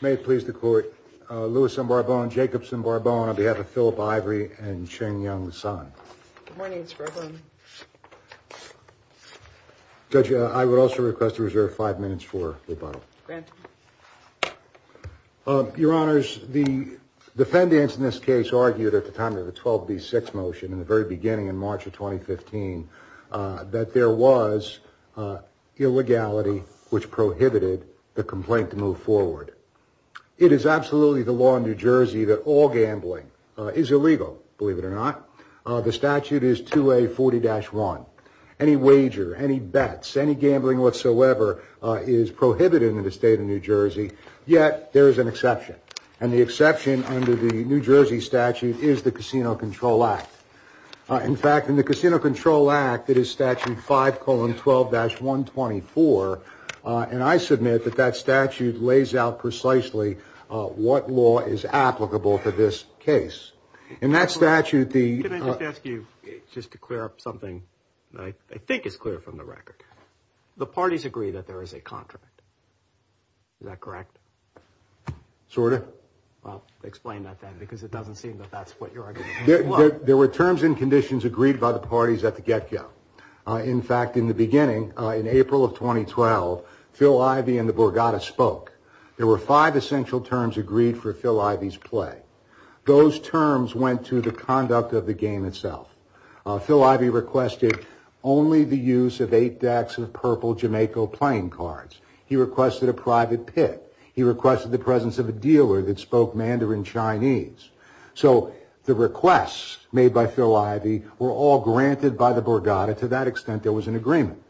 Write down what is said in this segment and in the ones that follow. May it please the court, Lewis and Barbone, Jacobson, Barbone, on behalf of Philip Ivey and Ching-Yung Sun. Good morning, Mr. President. Judge, I would also request to reserve five minutes for rebuttal. Granted. Your Honors, the defendants in this case argued at the time of the 12B6 motion in the very beginning in March of 2015 that there was illegality which prohibited the complaint to move forward. It is absolutely the law in New Jersey that all gambling is illegal, believe it or not. The statute is 2A40-1. Any wager, any bets, any gambling whatsoever is prohibited in the state of New Jersey. Yet there is an exception, and the exception under the New Jersey statute is the Casino Control Act. In fact, in the Casino Control Act, it is statute 5-12-124, and I submit that that statute lays out precisely what law is applicable for this case. In that statute, the... Let me just ask you just to clear up something that I think is clear from the record. The parties agree that there is a contract. Is that correct? Sort of. Well, explain that then, because it doesn't seem that that's what you're arguing. There were terms and conditions agreed by the parties at the get-go. In fact, in the beginning, in April of 2012, Phil Ivey and the Borgata spoke. There were five essential terms agreed for Phil Ivey's play. Those terms went to the conduct of the game itself. Phil Ivey requested only the use of eight decks of purple Jamaica playing cards. He requested a private pick. He requested the presence of a dealer that spoke Mandarin Chinese. So the requests made by Phil Ivey were all granted by the Borgata. To that extent, there was an agreement.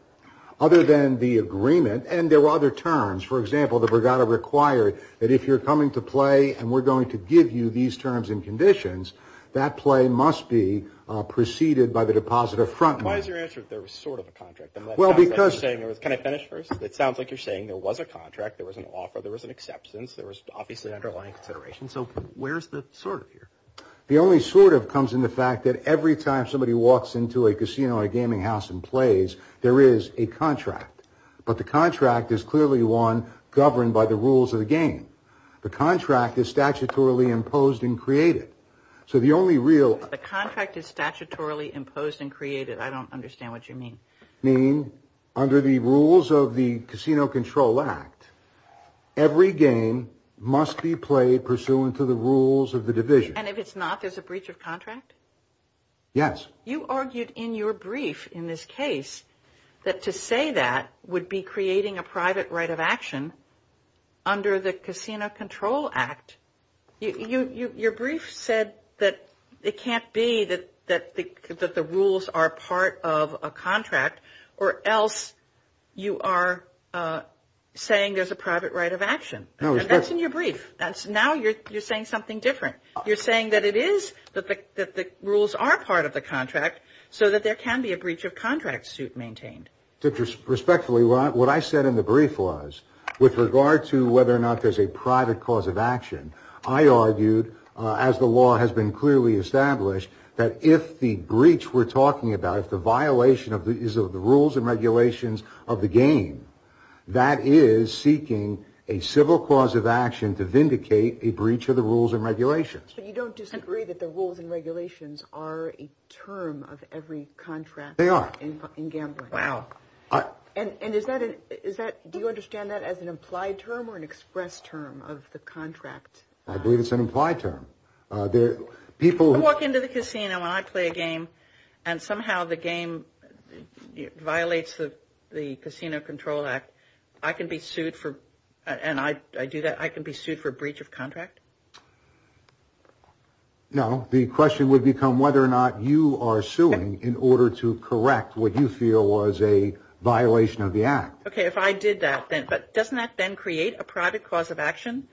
Other than the agreement, and there were other terms. For example, the Borgata required that if you're coming to play and we're going to give you these terms and conditions, that play must be preceded by the deposit of front money. Why is your answer that there was sort of a contract? Can I finish first? It sounds like you're saying there was a contract, there was an offer, there was an acceptance, there was obviously an underlying consideration. So where's the sort of here? The only sort of comes in the fact that every time somebody walks into a casino or a gaming house and plays, there is a contract. But the contract is clearly one governed by the rules of the game. The contract is statutorily imposed and created. So the only real. The contract is statutorily imposed and created. I don't understand what you mean. Under the rules of the Casino Control Act, every game must be played pursuant to the rules of the division. And if it's not, there's a breach of contract. Yes. You argued in your brief in this case that to say that would be creating a private right of action under the Casino Control Act. Your brief said that it can't be that the rules are part of a contract or else you are saying there's a private right of action. That's in your brief. Now you're saying something different. You're saying that it is, that the rules are part of the contract so that there can be a breach of contract suit maintained. Respectfully, what I said in the brief was, with regard to whether or not there's a private cause of action, I argued, as the law has been clearly established, that if the breach we're talking about, if the violation is of the rules and regulations of the game, that is seeking a civil cause of action to vindicate a breach of the rules and regulations. But you don't disagree that the rules and regulations are a term of every contract. They are. In gambling. Wow. And is that, do you understand that as an implied term or an expressed term of the contract? I believe it's an implied term. I walk into the casino and I play a game and somehow the game violates the Casino Control Act. I can be sued for, and I do that, I can be sued for breach of contract? No. The question would become whether or not you are suing in order to correct what you feel was a violation of the act. Okay, if I did that then, but doesn't that then create a private cause of action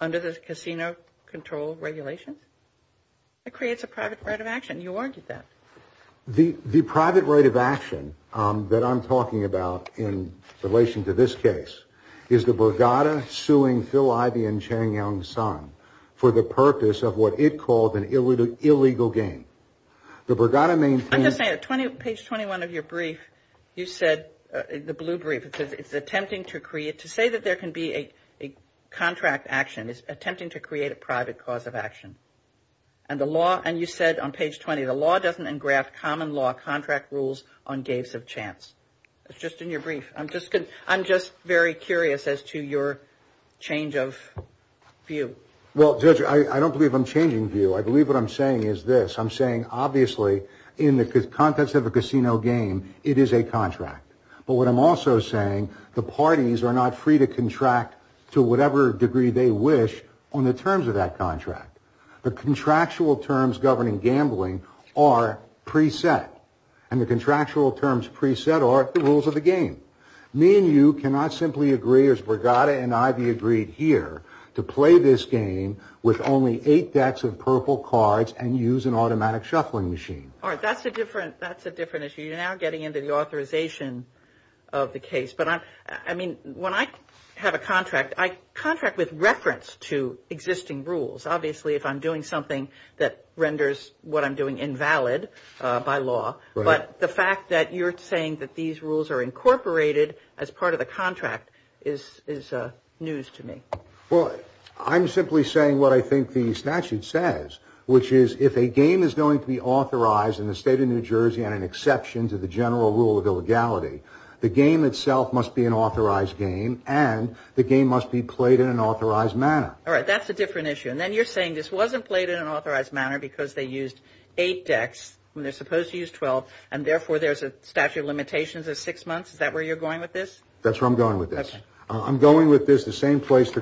under the Casino Control Regulations? It creates a private right of action. You argued that. The private right of action that I'm talking about in relation to this case is the Bregada suing Phil Ivey and Chang Young Son for the purpose of what it called an illegal game. The Bregada main thing. I'm just saying, at page 21 of your brief, you said, the blue brief, it says it's attempting to create, to say that there can be a contract action is attempting to create a private cause of action. And you said on page 20, the law doesn't engraft common law contract rules on games of chance. It's just in your brief. I'm just very curious as to your change of view. Well, Judge, I don't believe I'm changing view. I believe what I'm saying is this. I'm saying, obviously, in the context of a casino game, it is a contract. But what I'm also saying, the parties are not free to contract to whatever degree they wish on the terms of that contract. The contractual terms governing gambling are pre-set. And the contractual terms pre-set are the rules of the game. Me and you cannot simply agree, as Bregada and Ivey agreed here, to play this game with only eight decks of purple cards and use an automatic shuffling machine. All right, that's a different issue. You're now getting into the authorization of the case. But, I mean, when I have a contract, I contract with reference to existing rules. Obviously, if I'm doing something that renders what I'm doing invalid by law. But the fact that you're saying that these rules are incorporated as part of the contract is news to me. Well, I'm simply saying what I think the statute says, which is if a game is going to be authorized in the state of New Jersey on an exception to the general rule of illegality, the game itself must be an authorized game and the game must be played in an authorized manner. All right, that's a different issue. And then you're saying this wasn't played in an authorized manner because they used eight decks when they're supposed to use 12 and, therefore, there's a statute of limitations of six months. Is that where you're going with this? That's where I'm going with this. I'm going with this the same place the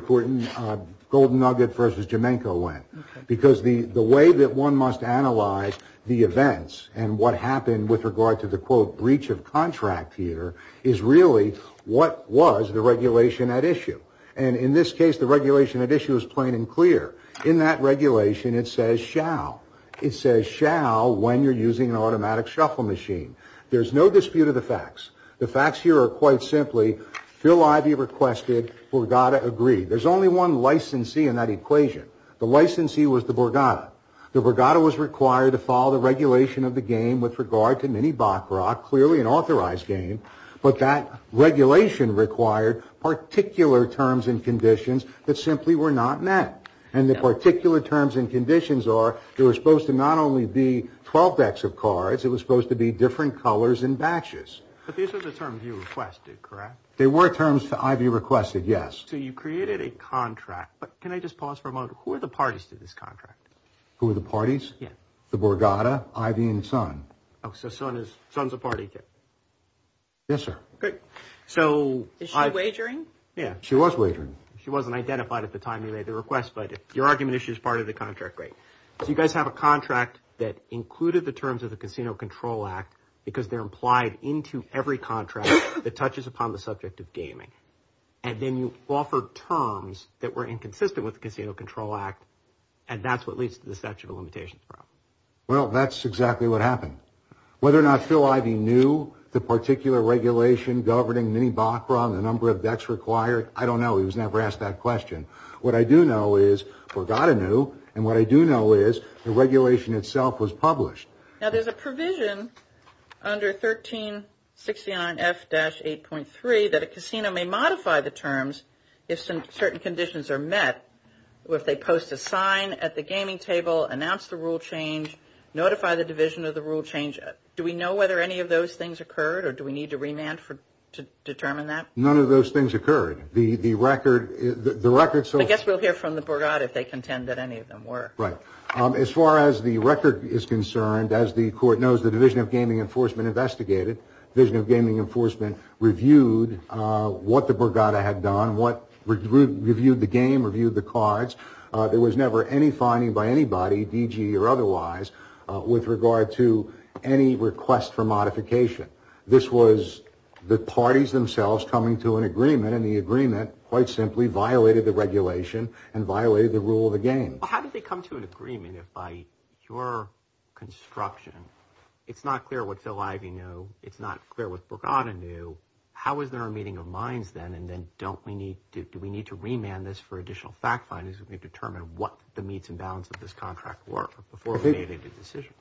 golden nugget versus Jomenko went. Because the way that one must analyze the events and what happened with regard to the, quote, breach of contract here is really what was the regulation at issue. And in this case, the regulation at issue is plain and clear. In that regulation, it says shall. It says shall when you're using an automatic shuffle machine. There's no dispute of the facts. The facts here are quite simply Phil Ivey requested, Borgata agreed. There's only one licensee in that equation. The licensee was the Borgata. The Borgata was required to follow the regulation of the game with regard to mini-Bachrock, clearly an authorized game, but that regulation required particular terms and conditions that simply were not met. And the particular terms and conditions are they were supposed to not only be 12 decks of cards, it was supposed to be different colors and batches. But these are the terms you requested, correct? They were terms that Ivey requested, yes. So you created a contract. But can I just pause for a moment? Who are the parties to this contract? Who are the parties? Yeah. The Borgata, Ivey, and Sun. Oh, so Sun is, Sun's a party to it. Yes, sir. Great. So I. Is she wagering? Yeah. She was wagering. She wasn't identified at the time you made the request, but your argument is she's part of the contract. Great. So you guys have a contract that included the terms of the Casino Control Act because they're implied into every contract that touches upon the subject of gaming. And then you offer terms that were inconsistent with the Casino Control Act, and that's what leads to the statute of limitations problem. Well, that's exactly what happened. Whether or not Phil Ivey knew the particular regulation governing mini-Bachrock and the number of decks required, I don't know. He was never asked that question. What I do know is Borgata knew, and what I do know is the regulation itself was published. Now, there's a provision under 1369F-8.3 that a casino may modify the terms if certain conditions are met, if they post a sign at the gaming table, announce the rule change, notify the division of the rule change. Do we know whether any of those things occurred, or do we need to remand to determine that? None of those things occurred. I guess we'll hear from the Borgata if they contend that any of them were. Right. As far as the record is concerned, as the Court knows, the Division of Gaming Enforcement investigated. Division of Gaming Enforcement reviewed what the Borgata had done, reviewed the game, reviewed the cards. There was never any finding by anybody, DG or otherwise, with regard to any request for modification. This was the parties themselves coming to an agreement, and the agreement, quite simply, violated the regulation and violated the rule of the game. How did they come to an agreement if, by your construction, it's not clear what Phil Ivey knew, it's not clear what Borgata knew, how is there a meeting of minds then, and then do we need to remand this for additional fact findings if we determine what the meets and bounds of this contract were before we made a decision?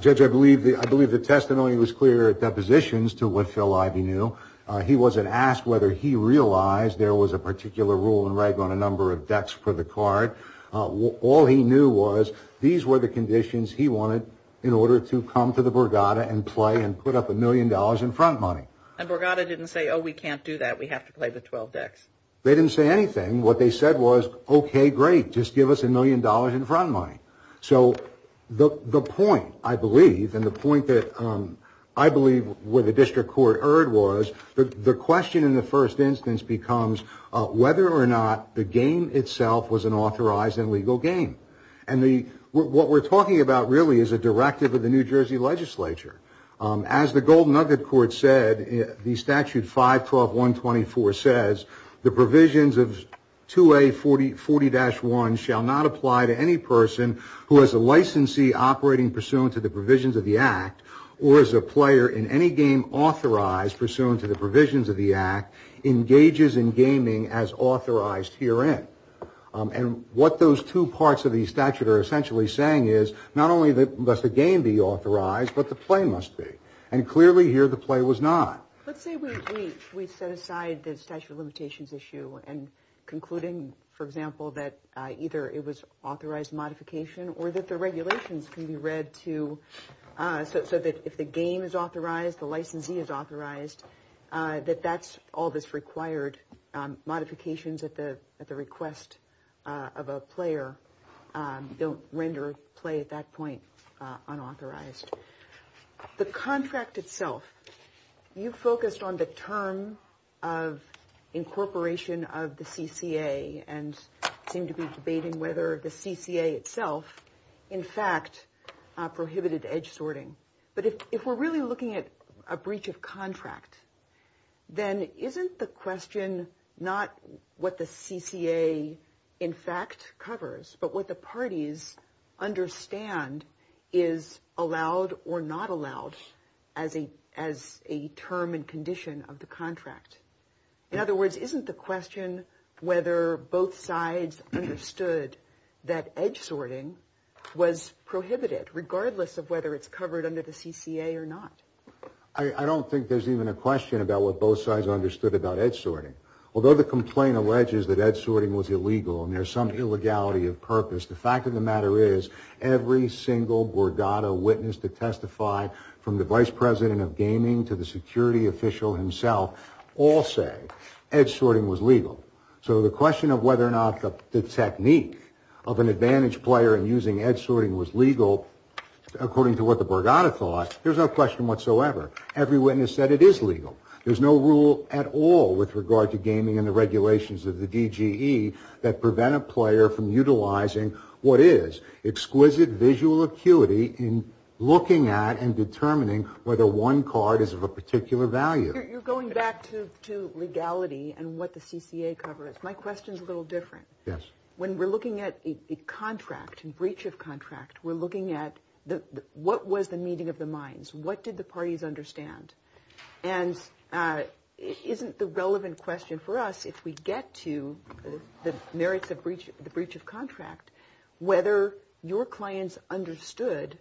Judge, I believe the testimony was clear at depositions to what Phil Ivey knew. He wasn't asked whether he realized there was a particular rule and reg on a number of decks for the card. All he knew was these were the conditions he wanted in order to come to the Borgata and play and put up a million dollars in front money. And Borgata didn't say, oh, we can't do that, we have to play the 12 decks? They didn't say anything. What they said was, okay, great, just give us a million dollars in front money. So the point, I believe, and the point that I believe where the district court erred was, the question in the first instance becomes whether or not the game itself was an authorized and legal game. And what we're talking about really is a directive of the New Jersey legislature. As the Golden Nugget Court said, the statute 512.124 says, the provisions of 2A40-1 shall not apply to any person who has a licensee operating pursuant to the provisions of the act or is a player in any game authorized pursuant to the provisions of the act engages in gaming as authorized herein. And what those two parts of the statute are essentially saying is not only must the game be authorized, but the play must be. And clearly here the play was not. Let's say we set aside the statute of limitations issue and concluding, for example, that either it was authorized modification or that the regulations can be read to, so that if the game is authorized, the licensee is authorized, that that's all that's required. Modifications at the request of a player don't render play at that point unauthorized. The contract itself, you focused on the term of incorporation of the CCA and seem to be debating whether the CCA itself in fact prohibited edge sorting. But if we're really looking at a breach of contract, then isn't the question not what the CCA in fact covers, but what the parties understand is allowed or not allowed as a as a term and condition of the contract. In other words, isn't the question whether both sides understood that edge sorting was prohibited, regardless of whether it's covered under the CCA or not? I don't think there's even a question about what both sides understood about edge sorting. Although the complaint alleges that edge sorting was illegal and there's some illegality of purpose, the fact of the matter is every single Borgata witness to testify from the vice president of gaming to the security official himself all say edge sorting was legal. So the question of whether or not the technique of an advantage player in using edge sorting was legal, according to what the Borgata thought, there's no question whatsoever. Every witness said it is legal. There's no rule at all with regard to gaming and the regulations of the DGE that prevent a player from utilizing what is exquisite visual acuity in looking at and determining whether one card is of a particular value. You're going back to legality and what the CCA covers. My question is a little different. Yes. When we're looking at a contract, a breach of contract, we're looking at what was the meeting of the minds. What did the parties understand? And isn't the relevant question for us, if we get to the merits of the breach of contract, whether your clients understood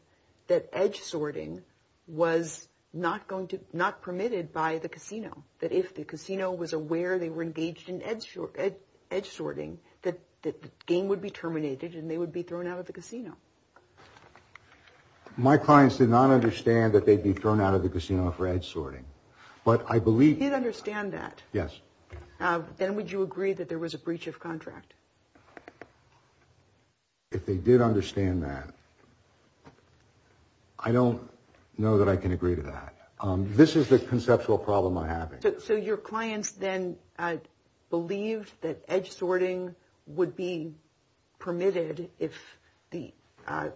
that edge sorting was not permitted by the casino, that if the casino was aware they were engaged in edge sorting, that the game would be terminated My clients did not understand that they'd be thrown out of the casino for edge sorting. But I believe you'd understand that. Yes. Then would you agree that there was a breach of contract? If they did understand that. I don't know that I can agree to that. This is the conceptual problem I have. So your clients then believed that edge sorting would be permitted if the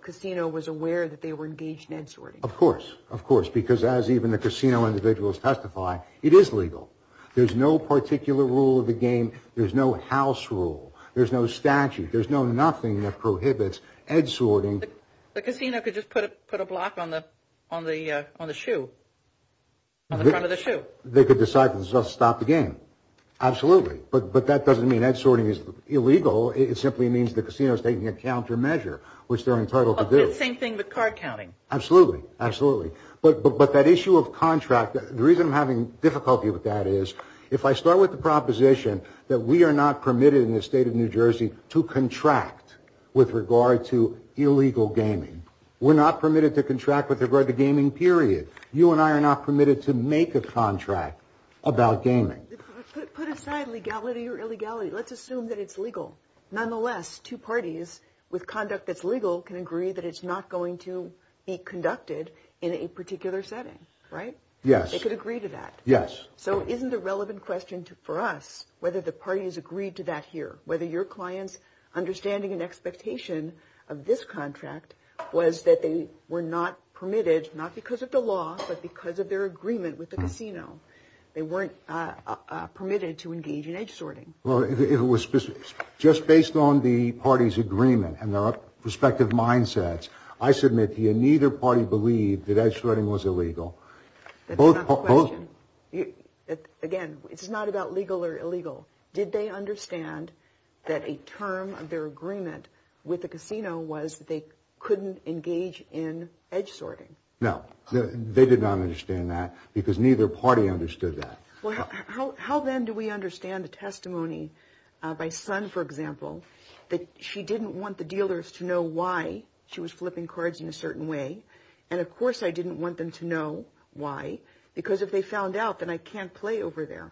casino was aware that they were engaged in edge sorting. Of course. Of course. Because as even the casino individuals testify, it is legal. There's no particular rule of the game. There's no house rule. There's no statute. There's no nothing that prohibits edge sorting. But they could decide to stop the game. Absolutely. But that doesn't mean edge sorting is illegal. It simply means the casino is taking a countermeasure, which they're entitled to do. Same thing with card counting. Absolutely. Absolutely. But that issue of contract, the reason I'm having difficulty with that is, if I start with the proposition that we are not permitted in the state of New Jersey to contract with regard to illegal gaming, we're not permitted to contract with regard to gaming, period. You and I are not permitted to make a contract about gaming. Put aside legality or illegality. Let's assume that it's legal. Nonetheless, two parties with conduct that's legal can agree that it's not going to be conducted in a particular setting. Right? Yes. They could agree to that. Yes. So isn't the relevant question for us whether the parties agreed to that here, whether your clients' understanding and expectation of this contract was that they were not permitted, not because of the law, but because of their agreement with the casino. They weren't permitted to engage in edge sorting. Well, just based on the parties' agreement and their respective mindsets, I submit that neither party believed that edge sorting was illegal. That's not the question. Again, it's not about legal or illegal. Did they understand that a term of their agreement with the casino was that they couldn't engage in edge sorting? No. They did not understand that because neither party understood that. Well, how then do we understand the testimony by Sun, for example, that she didn't want the dealers to know why she was flipping cards in a certain way, and, of course, I didn't want them to know why because if they found out, then I can't play over there.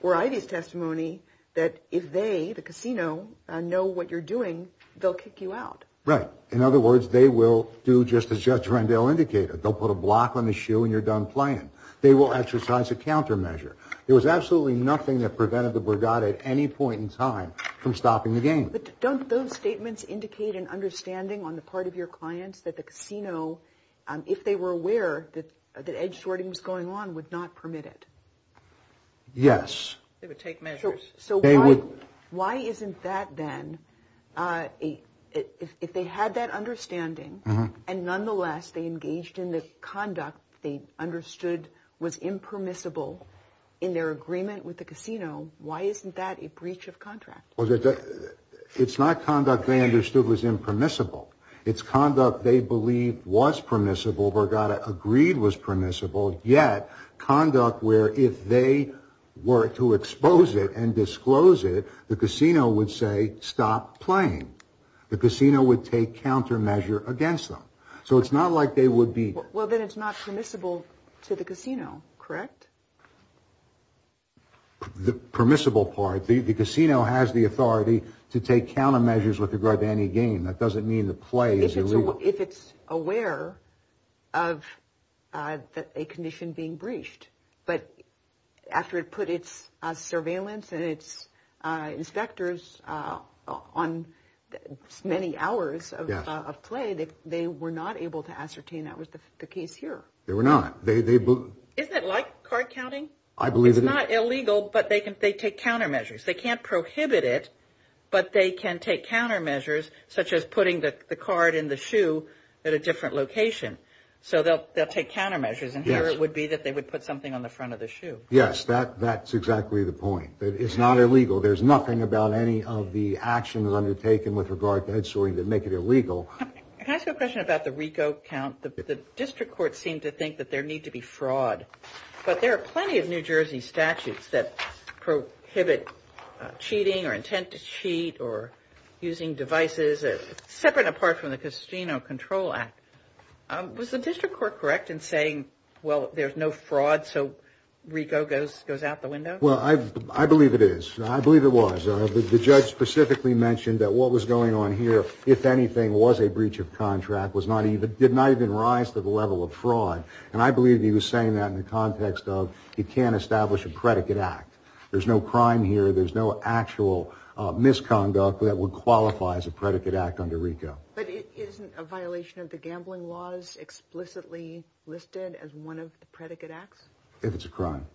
Or Ivy's testimony that if they, the casino, know what you're doing, they'll kick you out. Right. In other words, they will do just as Judge Rendell indicated. They'll put a block on the shoe and you're done playing. They will exercise a countermeasure. There was absolutely nothing that prevented the Burgat at any point in time from stopping the game. But don't those statements indicate an understanding on the part of your clients that the casino, if they were aware that edge sorting was going on, would not permit it? Yes. They would take measures. So why isn't that then, if they had that understanding and, nonetheless, they engaged in the conduct they understood was impermissible in their agreement with the casino, why isn't that a breach of contract? Well, it's not conduct they understood was impermissible. It's conduct they believed was permissible, Burgat agreed was permissible, yet conduct where if they were to expose it and disclose it, the casino would say stop playing. The casino would take countermeasure against them. So it's not like they would be. Well, then it's not permissible to the casino, correct? The permissible part. The casino has the authority to take countermeasures with regard to any game. That doesn't mean the play is illegal. If it's aware of a condition being breached. But after it put its surveillance and its inspectors on many hours of play, they were not able to ascertain that was the case here. They were not. Isn't it like card counting? I believe it is. It's not illegal, but they take countermeasures. They can't prohibit it, but they can take countermeasures, such as putting the card in the shoe at a different location. So they'll take countermeasures. And here it would be that they would put something on the front of the shoe. Yes, that's exactly the point. It's not illegal. There's nothing about any of the actions undertaken with regard to head-swearing that make it illegal. Can I ask you a question about the RICO count? The district courts seem to think that there need to be fraud. But there are plenty of New Jersey statutes that prohibit cheating or intent to cheat or using devices separate and apart from the Casino Control Act. Was the district court correct in saying, well, there's no fraud, so RICO goes out the window? Well, I believe it is. I believe it was. The judge specifically mentioned that what was going on here, if anything, was a breach of contract, did not even rise to the level of fraud. And I believe he was saying that in the context of you can't establish a predicate act. There's no crime here. There's no actual misconduct that would qualify as a predicate act under RICO. But isn't a violation of the gambling laws explicitly listed as one of the predicate acts? If it's a crime.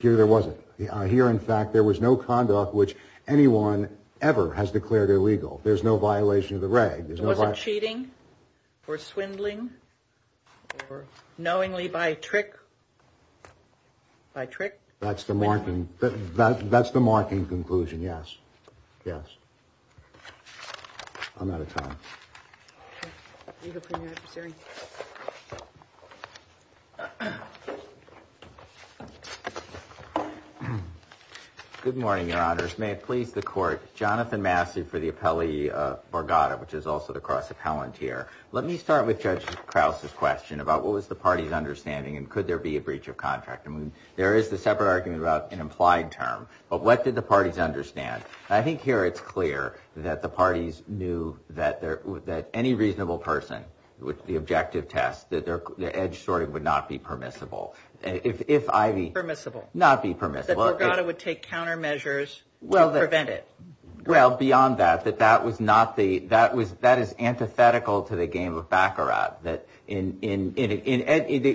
Here there wasn't. Here, in fact, there was no conduct which anyone ever has declared illegal. There's no violation of the reg. Was it cheating or swindling or knowingly by trick? By trick. That's the marking. That's the marking conclusion. Yes. Yes. I'm out of time. Good morning, Your Honors. May it please the Court. Jonathan Massey for the appellee, Borgata, which is also the cross-appellant here. Let me start with Judge Krause's question about what was the party's understanding and could there be a breach of contract. I mean, there is the separate argument about an implied term. But what did the parties understand? I think here it's clear that the parties knew that any reasonable person with the objective test, that the edge sorting would not be permissible. Permissible. Not be permissible. That Borgata would take countermeasures to prevent it. Well, beyond that, that that is antithetical to the game of Baccarat.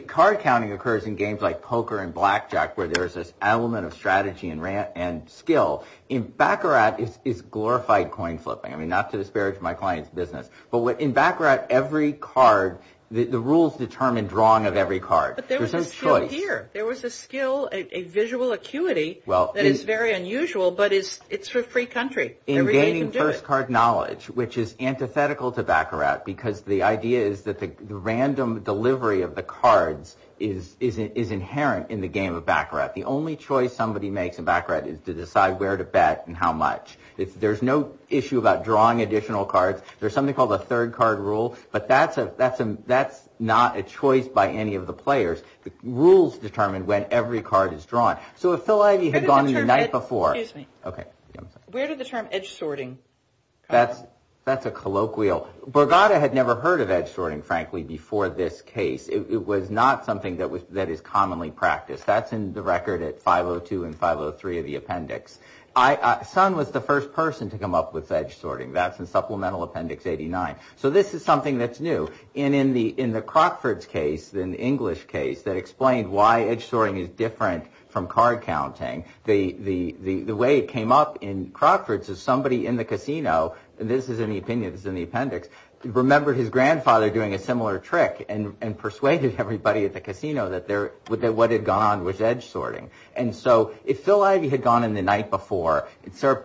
Card counting occurs in games like poker and blackjack where there is this element of strategy and skill. Baccarat is glorified coin flipping. I mean, not to disparage my client's business. But in Baccarat, every card, the rules determine drawing of every card. There's no choice. Well, here, there was a skill, a visual acuity that is very unusual, but it's for free country. Everybody can do it. In gaining first card knowledge, which is antithetical to Baccarat, because the idea is that the random delivery of the cards is inherent in the game of Baccarat. The only choice somebody makes in Baccarat is to decide where to bet and how much. There's no issue about drawing additional cards. There's something called a third card rule, but that's not a choice by any of the players. The rules determine when every card is drawn. So if Phil Ivey had gone in the night before. Excuse me. Where did the term edge sorting come from? That's a colloquial. Borgata had never heard of edge sorting, frankly, before this case. It was not something that is commonly practiced. That's in the record at 502 and 503 of the appendix. Sun was the first person to come up with edge sorting. That's in Supplemental Appendix 89. So this is something that's new. And in the Crockford's case, in the English case, that explained why edge sorting is different from card counting, the way it came up in Crockford's is somebody in the casino, and this is in the opinion, this is in the appendix, remembered his grandfather doing a similar trick and persuaded everybody at the casino that what had gone on was edge sorting. And so if Phil Ivey had gone in the night before,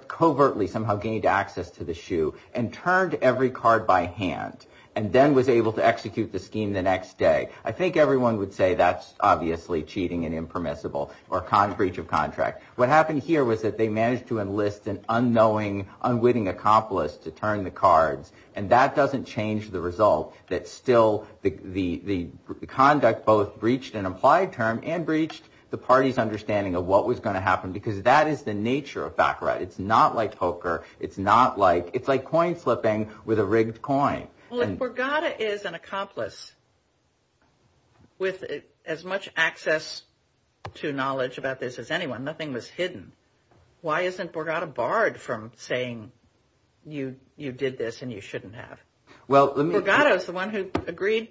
covertly somehow gained access to the shoe and turned every card by hand and then was able to execute the scheme the next day, I think everyone would say that's obviously cheating and impermissible or breach of contract. What happened here was that they managed to enlist an unknowing, unwitting accomplice to turn the cards, and that doesn't change the result, that still the conduct both breached an implied term and breached the party's understanding of what was going to happen because that is the nature of back right. It's not like poker. It's like coin flipping with a rigged coin. If Borgata is an accomplice with as much access to knowledge about this as anyone, nothing was hidden, why isn't Borgata barred from saying you did this and you shouldn't have? Borgata is the one who agreed.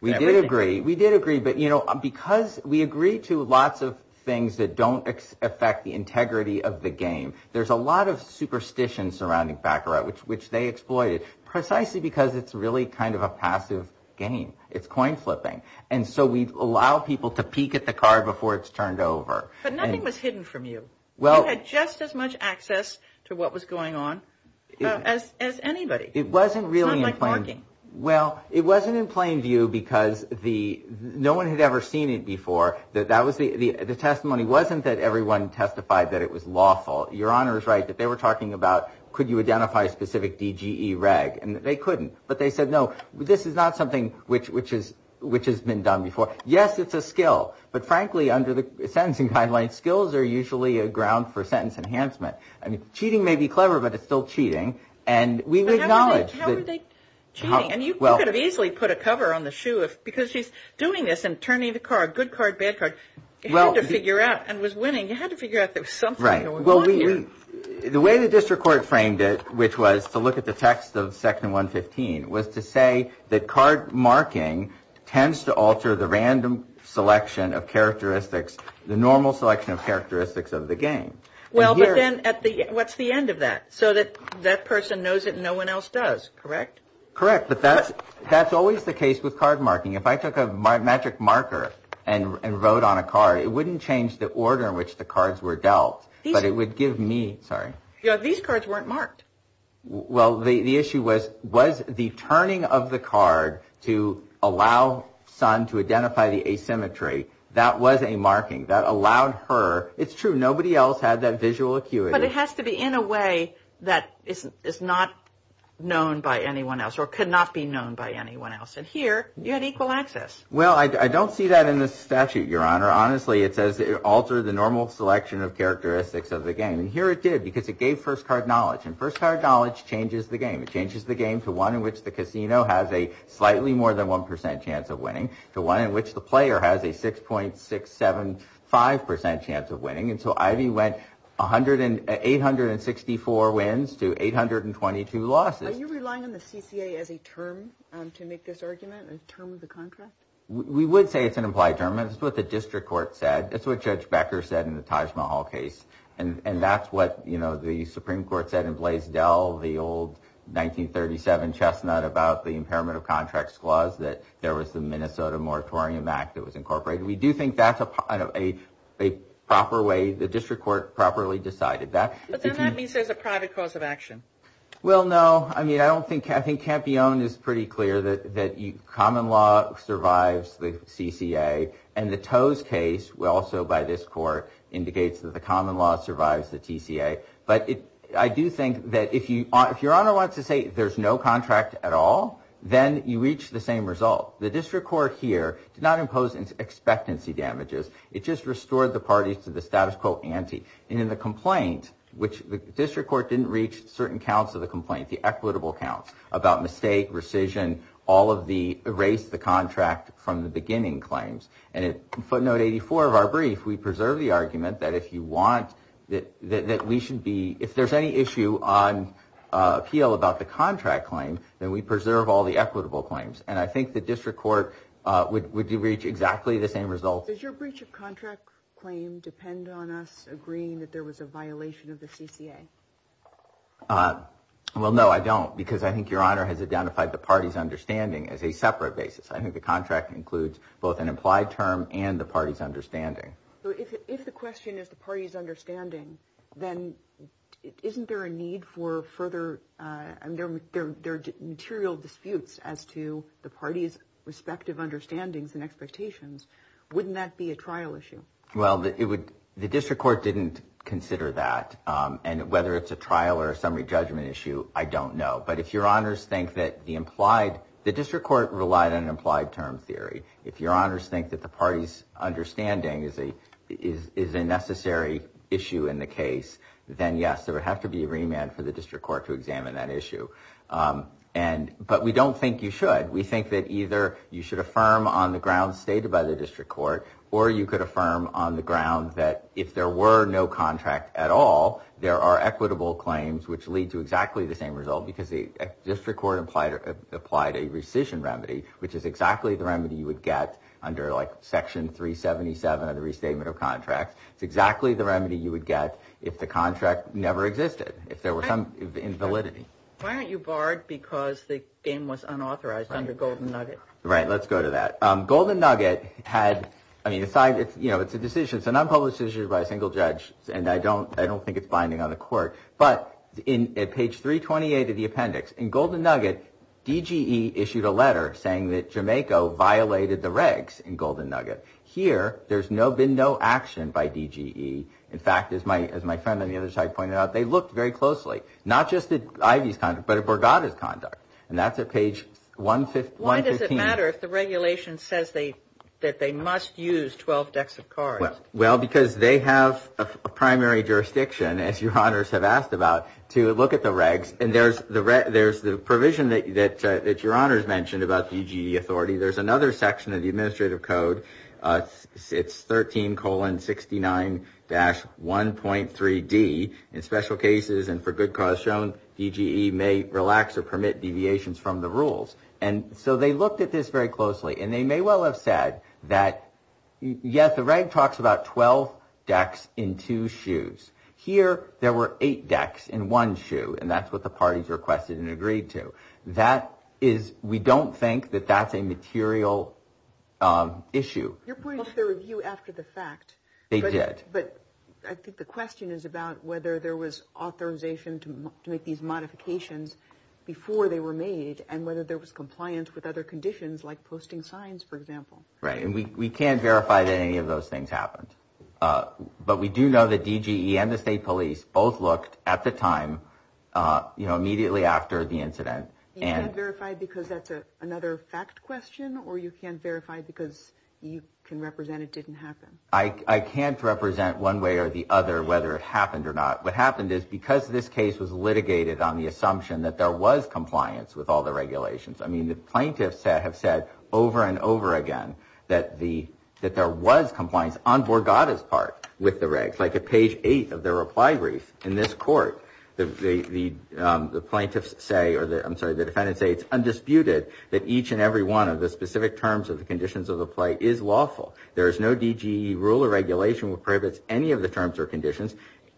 We did agree, we did agree, but because we agree to lots of things that don't affect the integrity of the game. There's a lot of superstition surrounding back right which they exploited precisely because it's really kind of a passive game. It's coin flipping, and so we allow people to peek at the card before it's turned over. But nothing was hidden from you. You had just as much access to what was going on as anybody. It wasn't really in plain view because no one had ever seen it before. The testimony wasn't that everyone testified that it was lawful. Your Honor is right that they were talking about could you identify specific DGE reg, and they couldn't, but they said no, this is not something which has been done before. Yes, it's a skill, but frankly under the sentencing guidelines, skills are usually a ground for sentence enhancement. Cheating may be clever, but it's still cheating, and we acknowledge that. How are they cheating? You could have easily put a cover on the shoe because she's doing this and turning the card, good card, bad card. You had to figure out and was winning. You had to figure out there was something going on here. The way the district court framed it, which was to look at the text of section 115, was to say that card marking tends to alter the random selection of characteristics, the normal selection of characteristics of the game. Well, but then what's the end of that? So that person knows it and no one else does, correct? Correct, but that's always the case with card marking. If I took a magic marker and wrote on a card, it wouldn't change the order in which the cards were dealt, but it would give me, sorry. Yeah, these cards weren't marked. Well, the issue was, was the turning of the card to allow Son to identify the asymmetry, that was a marking that allowed her, it's true, nobody else had that visual acuity. But it has to be in a way that is not known by anyone else or could not be known by anyone else, Well, I don't see that in the statute, Your Honor. Honestly, it says it altered the normal selection of characteristics of the game. And here it did, because it gave first card knowledge. And first card knowledge changes the game. It changes the game to one in which the casino has a slightly more than 1% chance of winning, to one in which the player has a 6.675% chance of winning. And so Ivy went 864 wins to 822 losses. Are you relying on the CCA as a term to make this argument, a term of the contract? We would say it's an implied term. It's what the district court said. It's what Judge Becker said in the Taj Mahal case. And that's what, you know, the Supreme Court said in Blaisdell, the old 1937 chestnut about the impairment of contracts clause, that there was the Minnesota Moratorium Act that was incorporated. We do think that's a proper way, the district court properly decided that. But then that means there's a private cause of action. Well, no, I mean, I don't think, I think Campione is pretty clear that common law survives the CCA. And the Toews case, also by this court, indicates that the common law survives the TCA. But I do think that if your Honor wants to say there's no contract at all, then you reach the same result. The district court here did not impose expectancy damages. It just restored the parties to the status quo ante. And in the complaint, which the district court didn't reach certain counts of the complaint, the equitable counts about mistake, rescission, all of the, erase the contract from the beginning claims. And in footnote 84 of our brief, we preserve the argument that if you want, that we should be, if there's any issue on appeal about the contract claim, then we preserve all the equitable claims. And I think the district court would reach exactly the same results. Does your breach of contract claim depend on us agreeing that there was a violation of the CCA? Well, no, I don't. Because I think your Honor has identified the party's understanding as a separate basis. I think the contract includes both an implied term and the party's understanding. If the question is the party's understanding, then isn't there a need for further, there are material disputes as to the party's respective understandings and expectations. Wouldn't that be a trial issue? Well, the district court didn't consider that. And whether it's a trial or a summary judgment issue, I don't know. But if your Honors think that the implied, the district court relied on an implied term theory, if your Honors think that the party's understanding is a necessary issue in the case, then yes, there would have to be a remand for the district court to examine that issue. And, but we don't think you should. We think that either you should affirm on the grounds stated by the district court, or you could affirm on the grounds that if there were no contract at all, there are equitable claims which lead to exactly the same result. Because the district court applied a rescission remedy, which is exactly the remedy you would get under, like, Section 377 of the Restatement of Contracts. It's exactly the remedy you would get if the contract never existed, if there were some invalidity. Why aren't you barred because the game was unauthorized under Golden Nugget? Right, let's go to that. Golden Nugget had, I mean, aside, you know, it's a decision. It's a nonpublished decision by a single judge, and I don't think it's binding on the court. But at page 328 of the appendix, in Golden Nugget, DGE issued a letter saying that Jamaica violated the regs in Golden Nugget. Here, there's been no action by DGE. In fact, as my friend on the other side pointed out, they looked very closely. Not just at Ivey's contract, but at Borgata's contract. And that's at page 115. Why does it matter if the regulation says that they must use 12 decks of cards? Well, because they have a primary jurisdiction, as your honors have asked about, to look at the regs. And there's the provision that your honors mentioned about DGE authority. There's another section of the administrative code. It's 13 colon 69 dash 1.3D. In special cases and for good cause shown, DGE may relax or permit deviations from the rules. And so they looked at this very closely. And they may well have said that, yes, the reg talks about 12 decks in two shoes. Here, there were eight decks in one shoe. And that's what the parties requested and agreed to. That is – we don't think that that's a material issue. You're pointing to the review after the fact. They did. But I think the question is about whether there was authorization to make these modifications before they were made and whether there was compliance with other conditions like posting signs, for example. Right. And we can't verify that any of those things happened. But we do know that DGE and the state police both looked at the time, you know, immediately after the incident. You can't verify because that's another fact question? Or you can't verify because you can represent it didn't happen? I can't represent one way or the other whether it happened or not. What happened is because this case was litigated on the assumption that there was compliance with all the regulations, I mean, the plaintiffs have said over and over again that there was compliance on Borgata's part with the regs. Like at page 8 of their reply brief in this court, the plaintiffs say – or I'm sorry, the defendants say it's undisputed that each and every one of the specific terms of the conditions of the play is lawful. There is no DGE rule or regulation which prohibits any of the terms or conditions,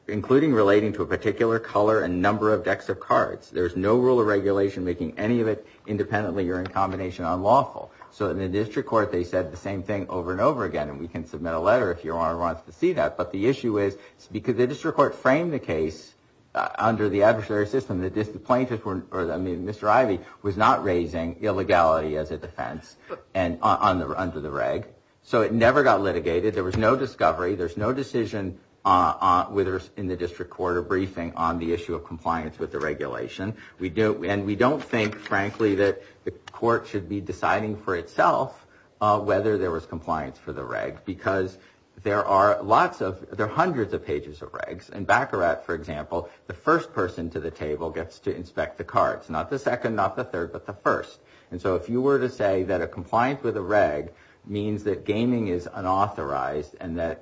including relating to a particular color and number of decks of cards. There is no rule or regulation making any of it independently or in combination unlawful. So in the district court, they said the same thing over and over again. And we can submit a letter if you want to see that. But the issue is because the district court framed the case under the adversary system, the plaintiffs were – I mean, Mr. Ivey was not raising illegality as a defense under the reg. So it never got litigated. There was no discovery. There's no decision in the district court or briefing on the issue of compliance with the regulation. And we don't think, frankly, that the court should be deciding for itself whether there was compliance for the reg because there are lots of – there are hundreds of pages of regs. In Baccarat, for example, the first person to the table gets to inspect the cards. Not the second, not the third, but the first. And so if you were to say that a compliance with a reg means that gaming is unauthorized and that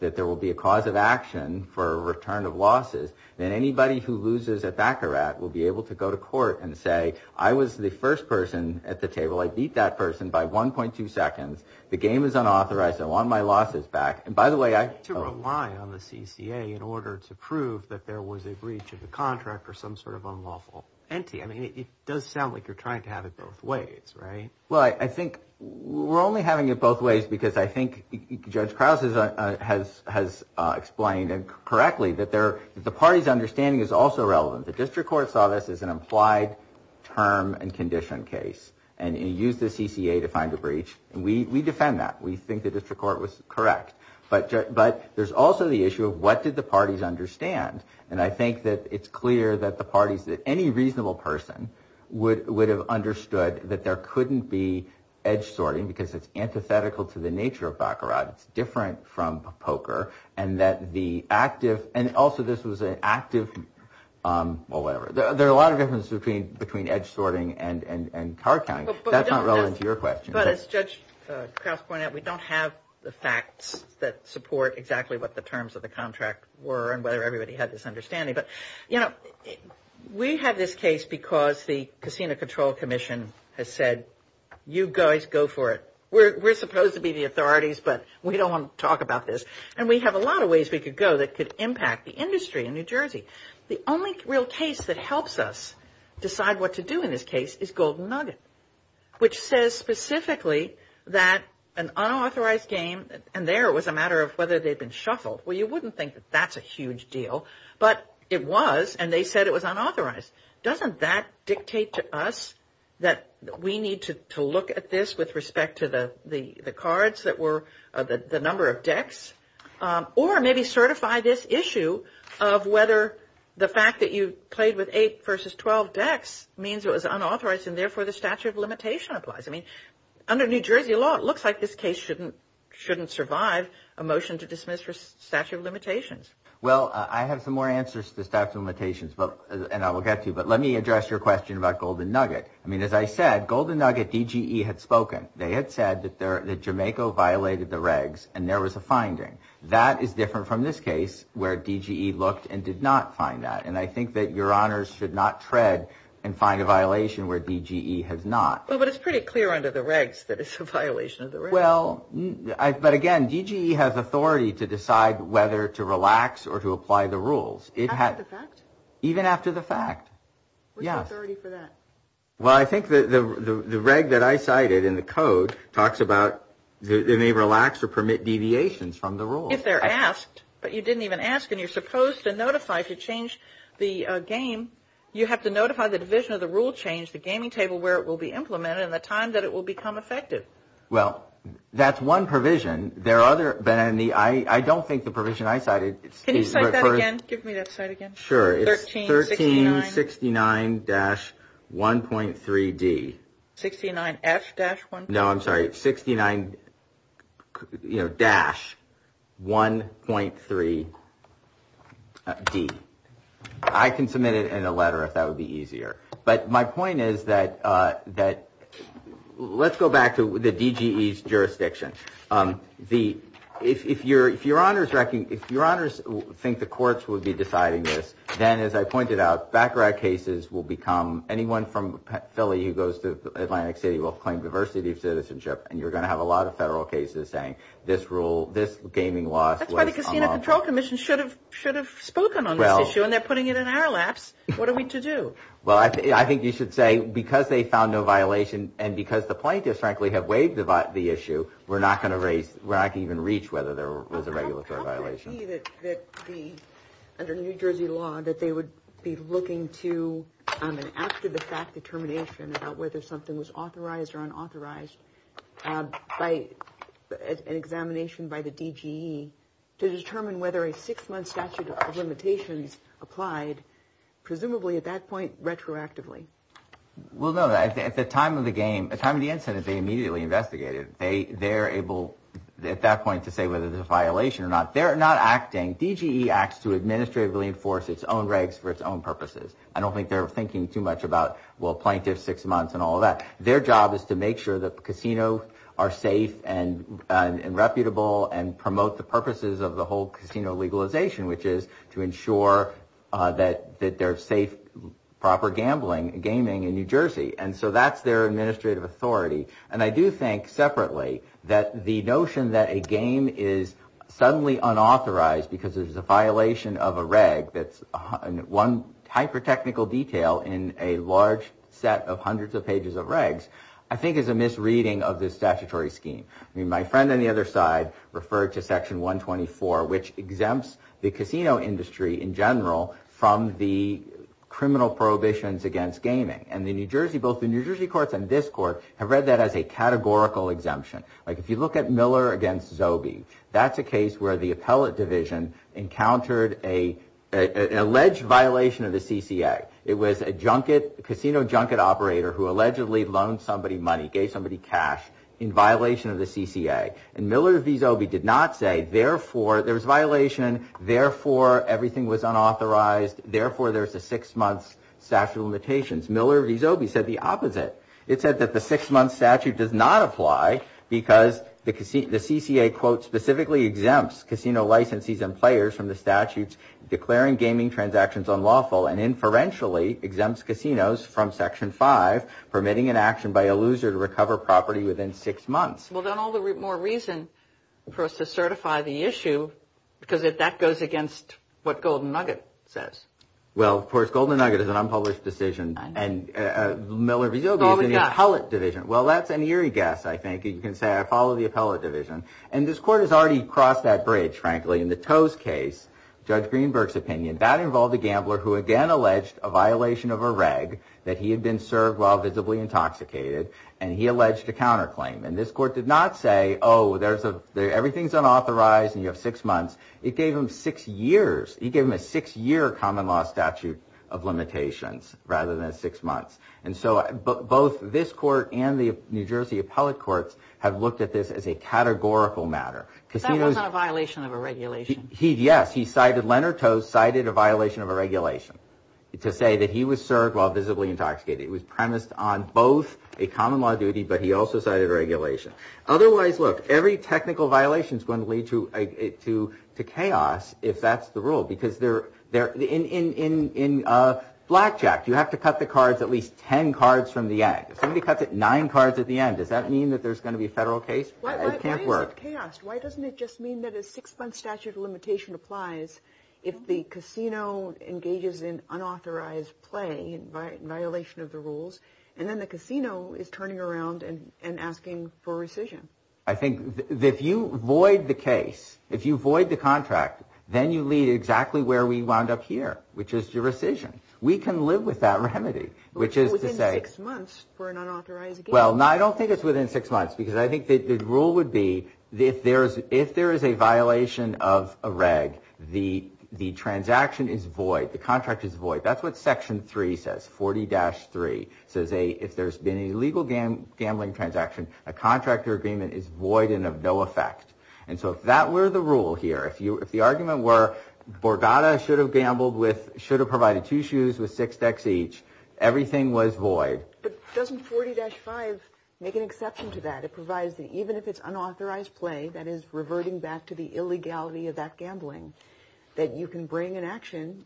there will be a cause of action for a return of losses, then anybody who loses at Baccarat will be able to go to court and say, I was the first person at the table. I beat that person by 1.2 seconds. The game is unauthorized. I want my losses back. And by the way, I – To rely on the CCA in order to prove that there was a breach of the contract or some sort of unlawful entity. I mean, it does sound like you're trying to have it both ways, right? Well, I think we're only having it both ways because I think Judge Krause has explained correctly that the party's understanding is also relevant. The district court saw this as an implied term and condition case and used the CCA to find a breach. And we defend that. We think the district court was correct. But there's also the issue of what did the parties understand. And I think that it's clear that the parties, that any reasonable person would have understood that there couldn't be edge sorting because it's antithetical to the nature of Baccarat. It's different from poker and that the active – and also this was an active – well, whatever. There are a lot of differences between edge sorting and card counting. That's not relevant to your question. But as Judge Krause pointed out, we don't have the facts that support exactly what the terms of the contract were and whether everybody had this understanding. But, you know, we have this case because the Casino Control Commission has said, you guys go for it. We're supposed to be the authorities, but we don't want to talk about this. And we have a lot of ways we could go that could impact the industry in New Jersey. The only real case that helps us decide what to do in this case is Golden Nugget, which says specifically that an unauthorized game – and there it was a matter of whether they'd been shuffled. Well, you wouldn't think that that's a huge deal. But it was, and they said it was unauthorized. Doesn't that dictate to us that we need to look at this with respect to the cards that were – the number of decks? Or maybe certify this issue of whether the fact that you played with 8 versus 12 decks means it was unauthorized and therefore the statute of limitation applies. I mean, under New Jersey law, it looks like this case shouldn't survive a motion to dismiss the statute of limitations. Well, I have some more answers to the statute of limitations, and I will get to you. But let me address your question about Golden Nugget. I mean, as I said, Golden Nugget DGE had spoken. They had said that Jamaica violated the regs, and there was a finding. That is different from this case where DGE looked and did not find that. And I think that your honors should not tread and find a violation where DGE has not. But it's pretty clear under the regs that it's a violation of the regs. Well, but again, DGE has authority to decide whether to relax or to apply the rules. After the fact? Even after the fact. What's the authority for that? Well, I think the reg that I cited in the code talks about they may relax or permit deviations from the rules. If they're asked, but you didn't even ask and you're supposed to notify if you change the game, you have to notify the division of the rule change, the gaming table, where it will be implemented and the time that it will become effective. Well, that's one provision. There are other, I don't think the provision I cited. Can you cite that again? Give me that cite again. Sure. It's 1369-1.3D. 69F-1.3. No, I'm sorry. It's 69-1.3D. I can submit it in a letter if that would be easier. But my point is that let's go back to the DGE's jurisdiction. If your honors think the courts would be deciding this, then, as I pointed out, background cases will become anyone from Philly who goes to Atlantic City will claim diversity of citizenship and you're going to have a lot of federal cases saying this rule, this gaming law. That's why the Casino Control Commission should have spoken on this issue and they're putting it in our laps. What are we to do? Well, I think you should say because they found no violation and because the plaintiffs, frankly, have waived the issue, we're not going to even reach whether there was a regulatory violation. How could it be that under New Jersey law that they would be looking to an after-the-fact determination about whether something was authorized or unauthorized by an examination by the DGE to determine whether a six-month statute of limitations applied, presumably at that point, retroactively? Well, no. At the time of the incident, they immediately investigated. They're able at that point to say whether there's a violation or not. They're not acting. DGE acts to administratively enforce its own regs for its own purposes. I don't think they're thinking too much about, well, plaintiffs, six months and all of that. Their job is to make sure that casinos are safe and reputable and promote the purposes of the whole casino legalization, which is to ensure that there's safe, proper gaming in New Jersey. And so that's their administrative authority. And I do think separately that the notion that a game is suddenly unauthorized because there's a violation of a reg that's one hyper-technical detail in a large set of hundreds of pages of regs, I think is a misreading of the statutory scheme. I mean, my friend on the other side referred to Section 124, which exempts the casino industry in general from the criminal prohibitions against gaming. And both the New Jersey courts and this court have read that as a categorical exemption. Like, if you look at Miller against Zobey, that's a case where the appellate division encountered an alleged violation of the CCA. It was a casino junket operator who allegedly loaned somebody money, gave somebody cash in violation of the CCA. And Miller v. Zobey did not say, therefore, there's violation, therefore, everything was unauthorized, therefore, there's a six-month statute of limitations. Miller v. Zobey said the opposite. It said that the six-month statute does not apply because the CCA, quote, specifically exempts casino licensees and players from the statutes declaring gaming transactions unlawful and inferentially exempts casinos from Section 5, permitting an action by a loser to recover property within six months. Well, then all the more reason for us to certify the issue because that goes against what Golden Nugget says. Well, of course, Golden Nugget is an unpublished decision. And Miller v. Zobey is in the appellate division. Well, that's an eerie guess, I think. You can say I follow the appellate division. And this court has already crossed that bridge, frankly. In the Toews case, Judge Greenberg's opinion, that involved a gambler who, again, alleged a violation of a reg that he had been served while visibly intoxicated. And he alleged a counterclaim. And this court did not say, oh, everything's unauthorized and you have six months. It gave him six years. It gave him a six-year common law statute of limitations rather than six months. And so both this court and the New Jersey appellate courts have looked at this as a categorical matter. That wasn't a violation of a regulation. Yes. Leonard Toews cited a violation of a regulation to say that he was served while visibly intoxicated. It was premised on both a common law duty, but he also cited a regulation. Otherwise, look, every technical violation is going to lead to chaos if that's the rule. Because in blackjack, you have to cut the cards at least ten cards from the end. If somebody cuts it nine cards at the end, does that mean that there's going to be a federal case? It can't work. Why is it chaos? Why doesn't it just mean that a six-month statute of limitation applies if the casino engages in unauthorized play, in violation of the rules, and then the casino is turning around and asking for rescission? I think if you void the case, if you void the contract, then you lead exactly where we wound up here, which is to rescission. We can live with that remedy, which is to say. Within six months for an unauthorized game. Well, no, I don't think it's within six months because I think the rule would be if there is a violation of a reg, the transaction is void, the contract is void. That's what Section 3 says, 40-3. It says if there's been a legal gambling transaction, a contract or agreement is void and of no effect. And so if that were the rule here, if the argument were Borgata should have gambled with, should have provided two shoes with six decks each, everything was void. But doesn't 40-5 make an exception to that? It provides that even if it's unauthorized play, that is reverting back to the illegality of that gambling, that you can bring an action,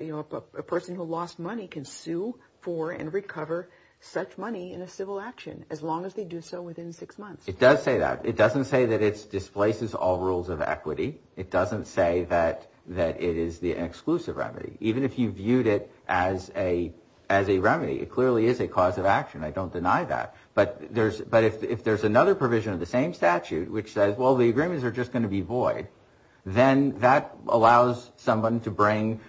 you know, a person who lost money can sue for and recover such money in a civil action, as long as they do so within six months. It does say that. It doesn't say that it displaces all rules of equity. It doesn't say that it is the exclusive remedy. Even if you viewed it as a remedy, it clearly is a cause of action. I don't deny that. But if there's another provision of the same statute which says, well, the agreements are just going to be void, then that allows someone to bring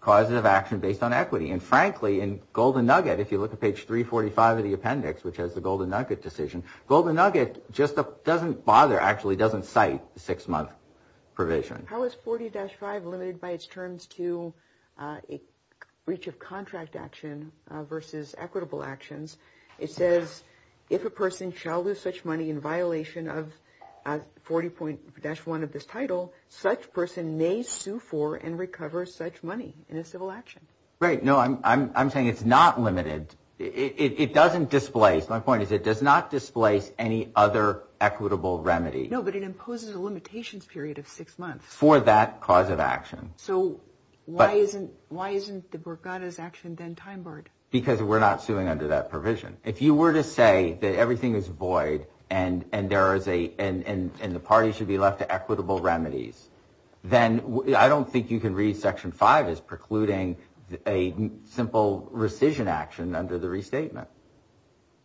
causes of action based on equity. And frankly, in Golden Nugget, if you look at page 345 of the appendix, which has the Golden Nugget decision, Golden Nugget just doesn't bother, actually doesn't cite the six-month provision. How is 40-5 limited by its terms to breach of contract action versus equitable actions? It says, if a person shall lose such money in violation of 40-1 of this title, such person may sue for and recover such money in a civil action. Right. No, I'm saying it's not limited. It doesn't displace. My point is it does not displace any other equitable remedy. No, but it imposes a limitations period of six months. For that cause of action. So why isn't the Borgata's action then time barred? Because we're not suing under that provision. If you were to say that everything is void and the party should be left to equitable remedies, then I don't think you can read Section 5 as precluding a simple rescission action under the restatement.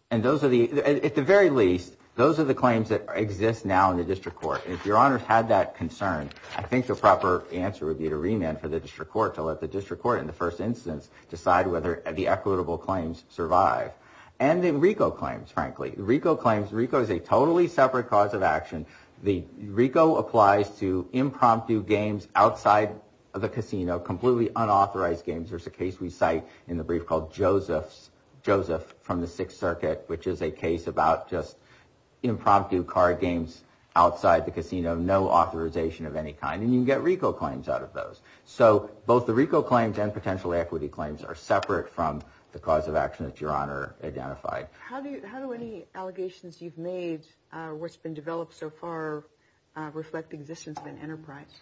And those are the, at the very least, those are the claims that exist now in the district court. If your honor had that concern, I think the proper answer would be to remand for the district court to let the district court in the first instance decide whether the equitable claims survive. And then RICO claims, frankly, RICO claims RICO is a totally separate cause of action. The RICO applies to impromptu games outside of the casino, completely unauthorized games. There's a case we cite in the brief called Joseph from the Sixth Circuit, which is a case about just impromptu card games outside the casino. No authorization of any kind. And you can get RICO claims out of those. So both the RICO claims and potential equity claims are separate from the cause of action that your honor identified. How do any allegations you've made, what's been developed so far, reflect the existence of an enterprise?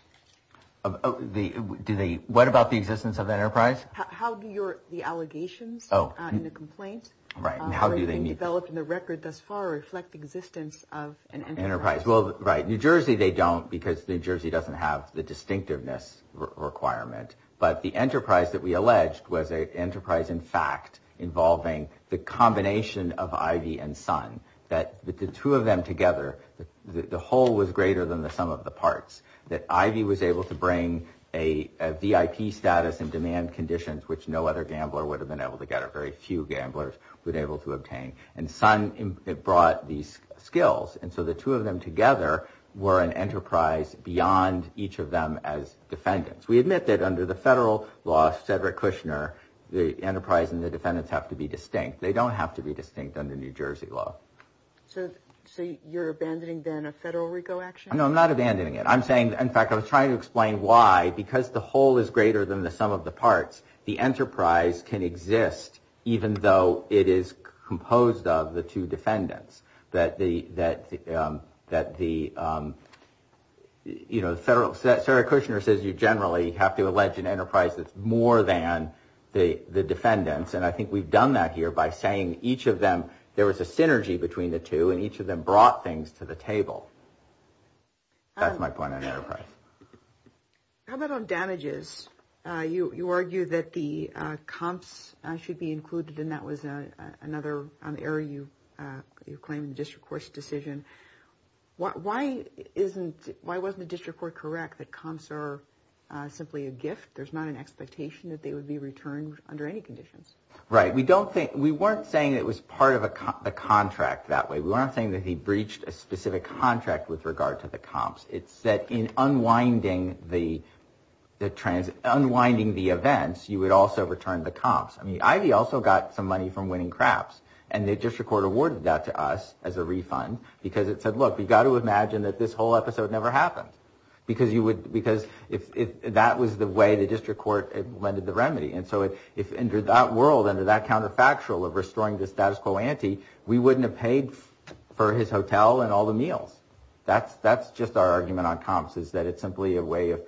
Do they, what about the existence of the enterprise? How do your, the allegations in the complaint, how have they been developed in the record thus far reflect the existence of an enterprise? Well, right, New Jersey they don't because New Jersey doesn't have the distinctiveness requirement. But the enterprise that we alleged was an enterprise, in fact, involving the combination of Ivy and Sun. That the two of them together, the whole was greater than the sum of the parts. That Ivy was able to bring a VIP status and demand conditions, which no other gambler would have been able to get or very few gamblers would be able to obtain. And Sun brought these skills. And so the two of them together were an enterprise beyond each of them as defendants. We admit that under the federal law, Cedric Kushner, the enterprise and the defendants have to be distinct. They don't have to be distinct under New Jersey law. So you're abandoning then a federal RICO action? No, I'm not abandoning it. I'm saying, in fact, I was trying to explain why. Because the whole is greater than the sum of the parts, the enterprise can exist even though it is composed of the two defendants. That the federal, Cedric Kushner says you generally have to allege an enterprise that's more than the defendants. And I think we've done that here by saying each of them, there was a synergy between the two and each of them brought things to the table. That's my point on enterprise. How about on damages, you argue that the comps should be included and that was another area you claim in the district court's decision. Why wasn't the district court correct that comps are simply a gift? There's not an expectation that they would be returned under any conditions. Right. We weren't saying it was part of the contract that way. We weren't saying that he breached a specific contract with regard to the comps. It's that in unwinding the events, you would also return the comps. I mean, Ivy also got some money from winning craps. And the district court awarded that to us as a refund because it said, look, we've got to imagine that this whole episode never happened. Because that was the way the district court lended the remedy. And so if under that world, under that counterfactual of restoring the status quo ante, we wouldn't have paid for his hotel and all the meals. That's just our argument on comps is that it's simply a way of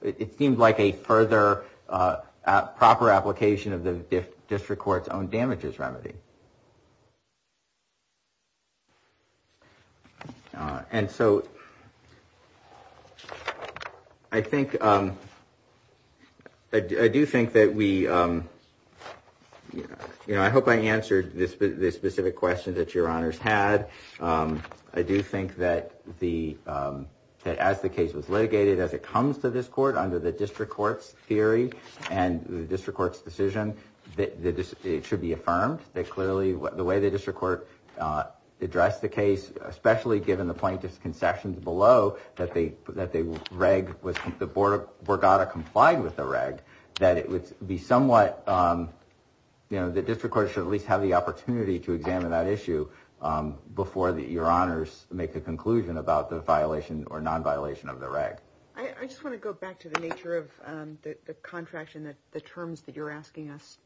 it seemed like a further proper application of the district court's own damages remedy. And so I think I do think that we, you know, I hope I answered this specific question that your honors had. I do think that the that as the case was litigated, as it comes to this court under the district court's theory and the district court's decision, that it should be affirmed that clearly the way the district court addressed the case, especially given the plaintiff's concessions below that they that they reg was the board of Borgata complied with the reg, that it would be somewhat, you know, the district court should at least have the opportunity to examine that issue before your honors make a conclusion about the violation or non-violation of the reg. I just want to go back to the nature of the contract and the terms that you're asking us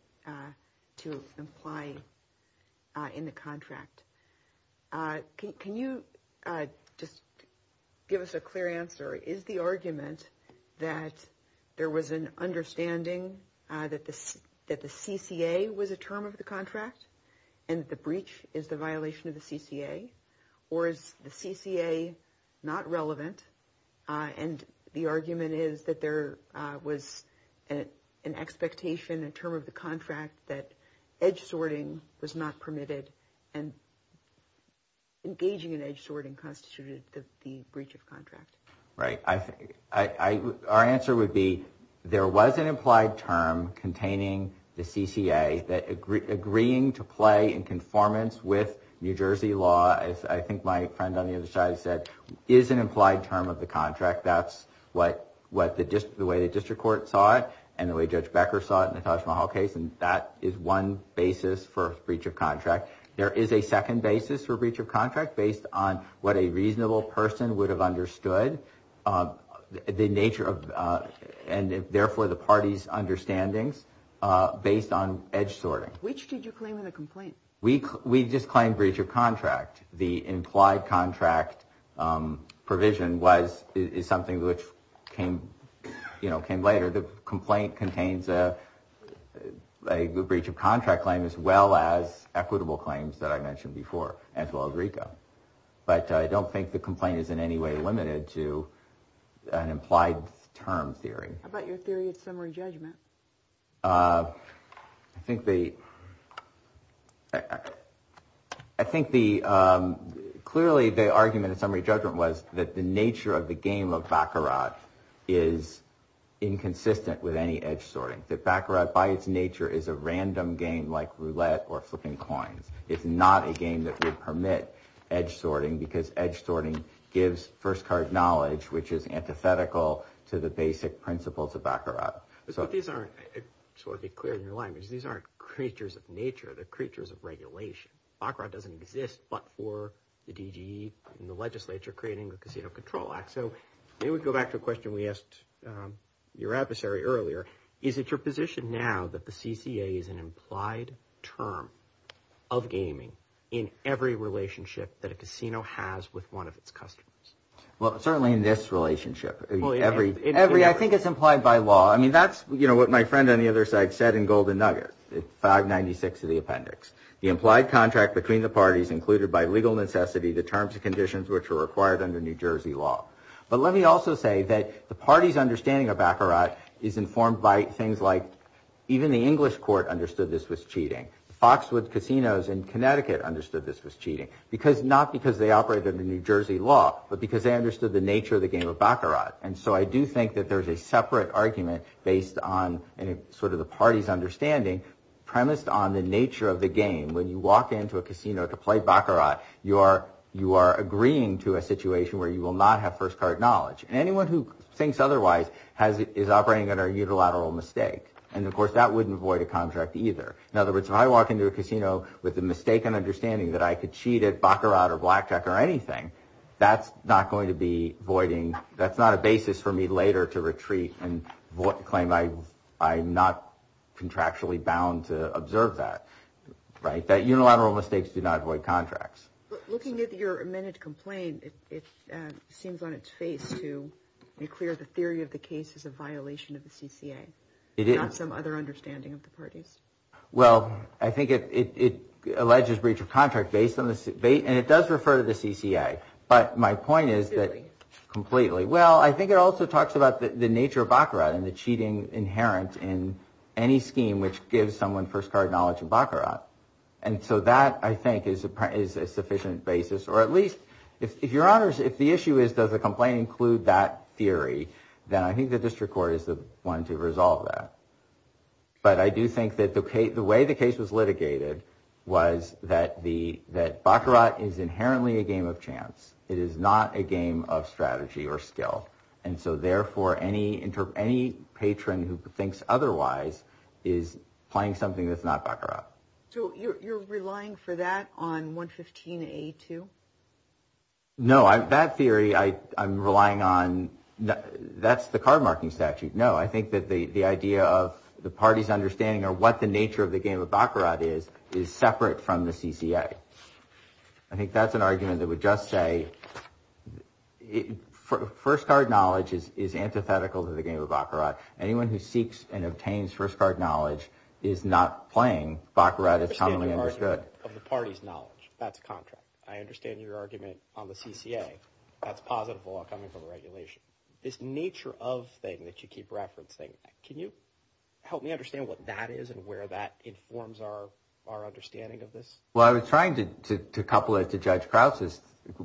to imply in the contract. Can you just give us a clear answer? Is the argument that there was an understanding that this that the CCA was a term of the contract and the breach is the violation of the CCA? Or is the CCA not relevant? And the argument is that there was an expectation, a term of the contract that edge sorting was not permitted and engaging in edge sorting constituted the breach of contract. Right. I think our answer would be there was an implied term containing the CCA that agree agreeing to play in conformance with New Jersey law. I think my friend on the other side said is an implied term of the contract. That's what what the way the district court saw it and the way Judge Becker saw it in the Taj Mahal case. And that is one basis for breach of contract. There is a second basis for breach of contract based on what a reasonable person would have understood the nature of and therefore the party's understandings based on edge sorting. Which did you claim in the complaint? We just claimed breach of contract. The implied contract provision was is something which came, you know, came later. The complaint contains a breach of contract claim as well as equitable claims that I mentioned before, as well as RICO. But I don't think the complaint is in any way limited to an implied term theory. About your theory of summary judgment. I think the. I think the clearly the argument of summary judgment was that the nature of the game of Baccarat is inconsistent with any edge sorting. The Baccarat, by its nature, is a random game like roulette or flipping coins. It's not a game that would permit edge sorting because edge sorting gives first card knowledge, which is antithetical to the basic principles of Baccarat. So these aren't sort of a clear new language. These aren't creatures of nature. They're creatures of regulation. Baccarat doesn't exist, but for the DG and the legislature creating a casino control act. So maybe we go back to a question we asked your adversary earlier. Is it your position now that the CCA is an implied term of gaming in every relationship that a casino has with one of its customers? Well, certainly in this relationship, every every I think it's implied by law. I mean, that's what my friend on the other side said in Golden Nugget. 596 of the appendix, the implied contract between the parties included by legal necessity, the terms and conditions which are required under New Jersey law. But let me also say that the party's understanding of Baccarat is informed by things like even the English court understood this was cheating. Foxwood casinos in Connecticut understood this was cheating because not because they operated in New Jersey law, but because they understood the nature of the game of Baccarat. And so I do think that there is a separate argument based on any sort of the party's understanding premised on the nature of the game. When you walk into a casino to play Baccarat, you are you are agreeing to a situation where you will not have first card knowledge. And anyone who thinks otherwise has is operating under a unilateral mistake. And of course, that wouldn't void a contract either. In other words, if I walk into a casino with the mistaken understanding that I could cheat at Baccarat or Blackjack or anything, that's not going to be voiding. I mean, that's not a basis for me later to retreat and claim I'm not contractually bound to observe that. Right. That unilateral mistakes do not void contracts. Looking at your amended complaint, it seems on its face to be clear the theory of the case is a violation of the CCA. It is some other understanding of the parties. Well, I think it alleges breach of contract based on this debate. And it does refer to the CCA. But my point is that completely. Well, I think it also talks about the nature of Baccarat and the cheating inherent in any scheme which gives someone first card knowledge of Baccarat. And so that, I think, is a sufficient basis, or at least if your honors, if the issue is, does the complaint include that theory? Then I think the district court is the one to resolve that. But I do think that the way the case was litigated was that the that Baccarat is inherently a game of chance. It is not a game of strategy or skill. And so therefore, any any patron who thinks otherwise is playing something that's not Baccarat. So you're relying for that on 115A too? No, that theory I I'm relying on. That's the card marking statute. No, I think that the idea of the party's understanding or what the nature of the game of Baccarat is, is separate from the CCA. I think that's an argument that would just say first card knowledge is antithetical to the game of Baccarat. Anyone who seeks and obtains first card knowledge is not playing Baccarat. It's commonly understood of the party's knowledge. That's a contract. I understand your argument on the CCA. That's positive law coming from regulation. This nature of thing that you keep referencing. Can you help me understand what that is and where that informs our our understanding of this? Well, I was trying to couple it to Judge Krause's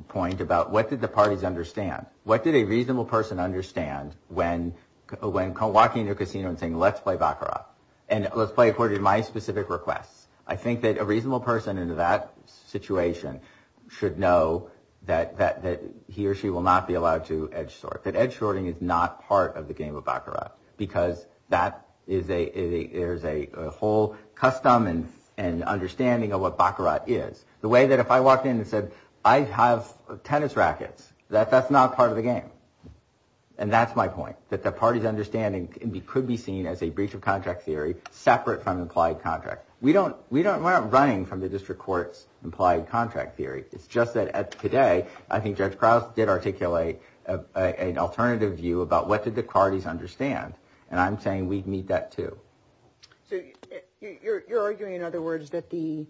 point about what did the parties understand? What did a reasonable person understand when when walking into a casino and saying, let's play Baccarat and let's play according to my specific requests? I think that a reasonable person in that situation should know that that he or she will not be allowed to edge sort. That edge sorting is not part of the game of Baccarat because that is a there's a whole custom and an understanding of what Baccarat is. The way that if I walked in and said I have tennis rackets, that that's not part of the game. And that's my point, that the party's understanding could be seen as a breach of contract theory separate from implied contract. We don't we don't we're not running from the district court's implied contract theory. It's just that today, I think Judge Krause did articulate an alternative view about what did the parties understand. And I'm saying we need that, too. So you're arguing, in other words, that the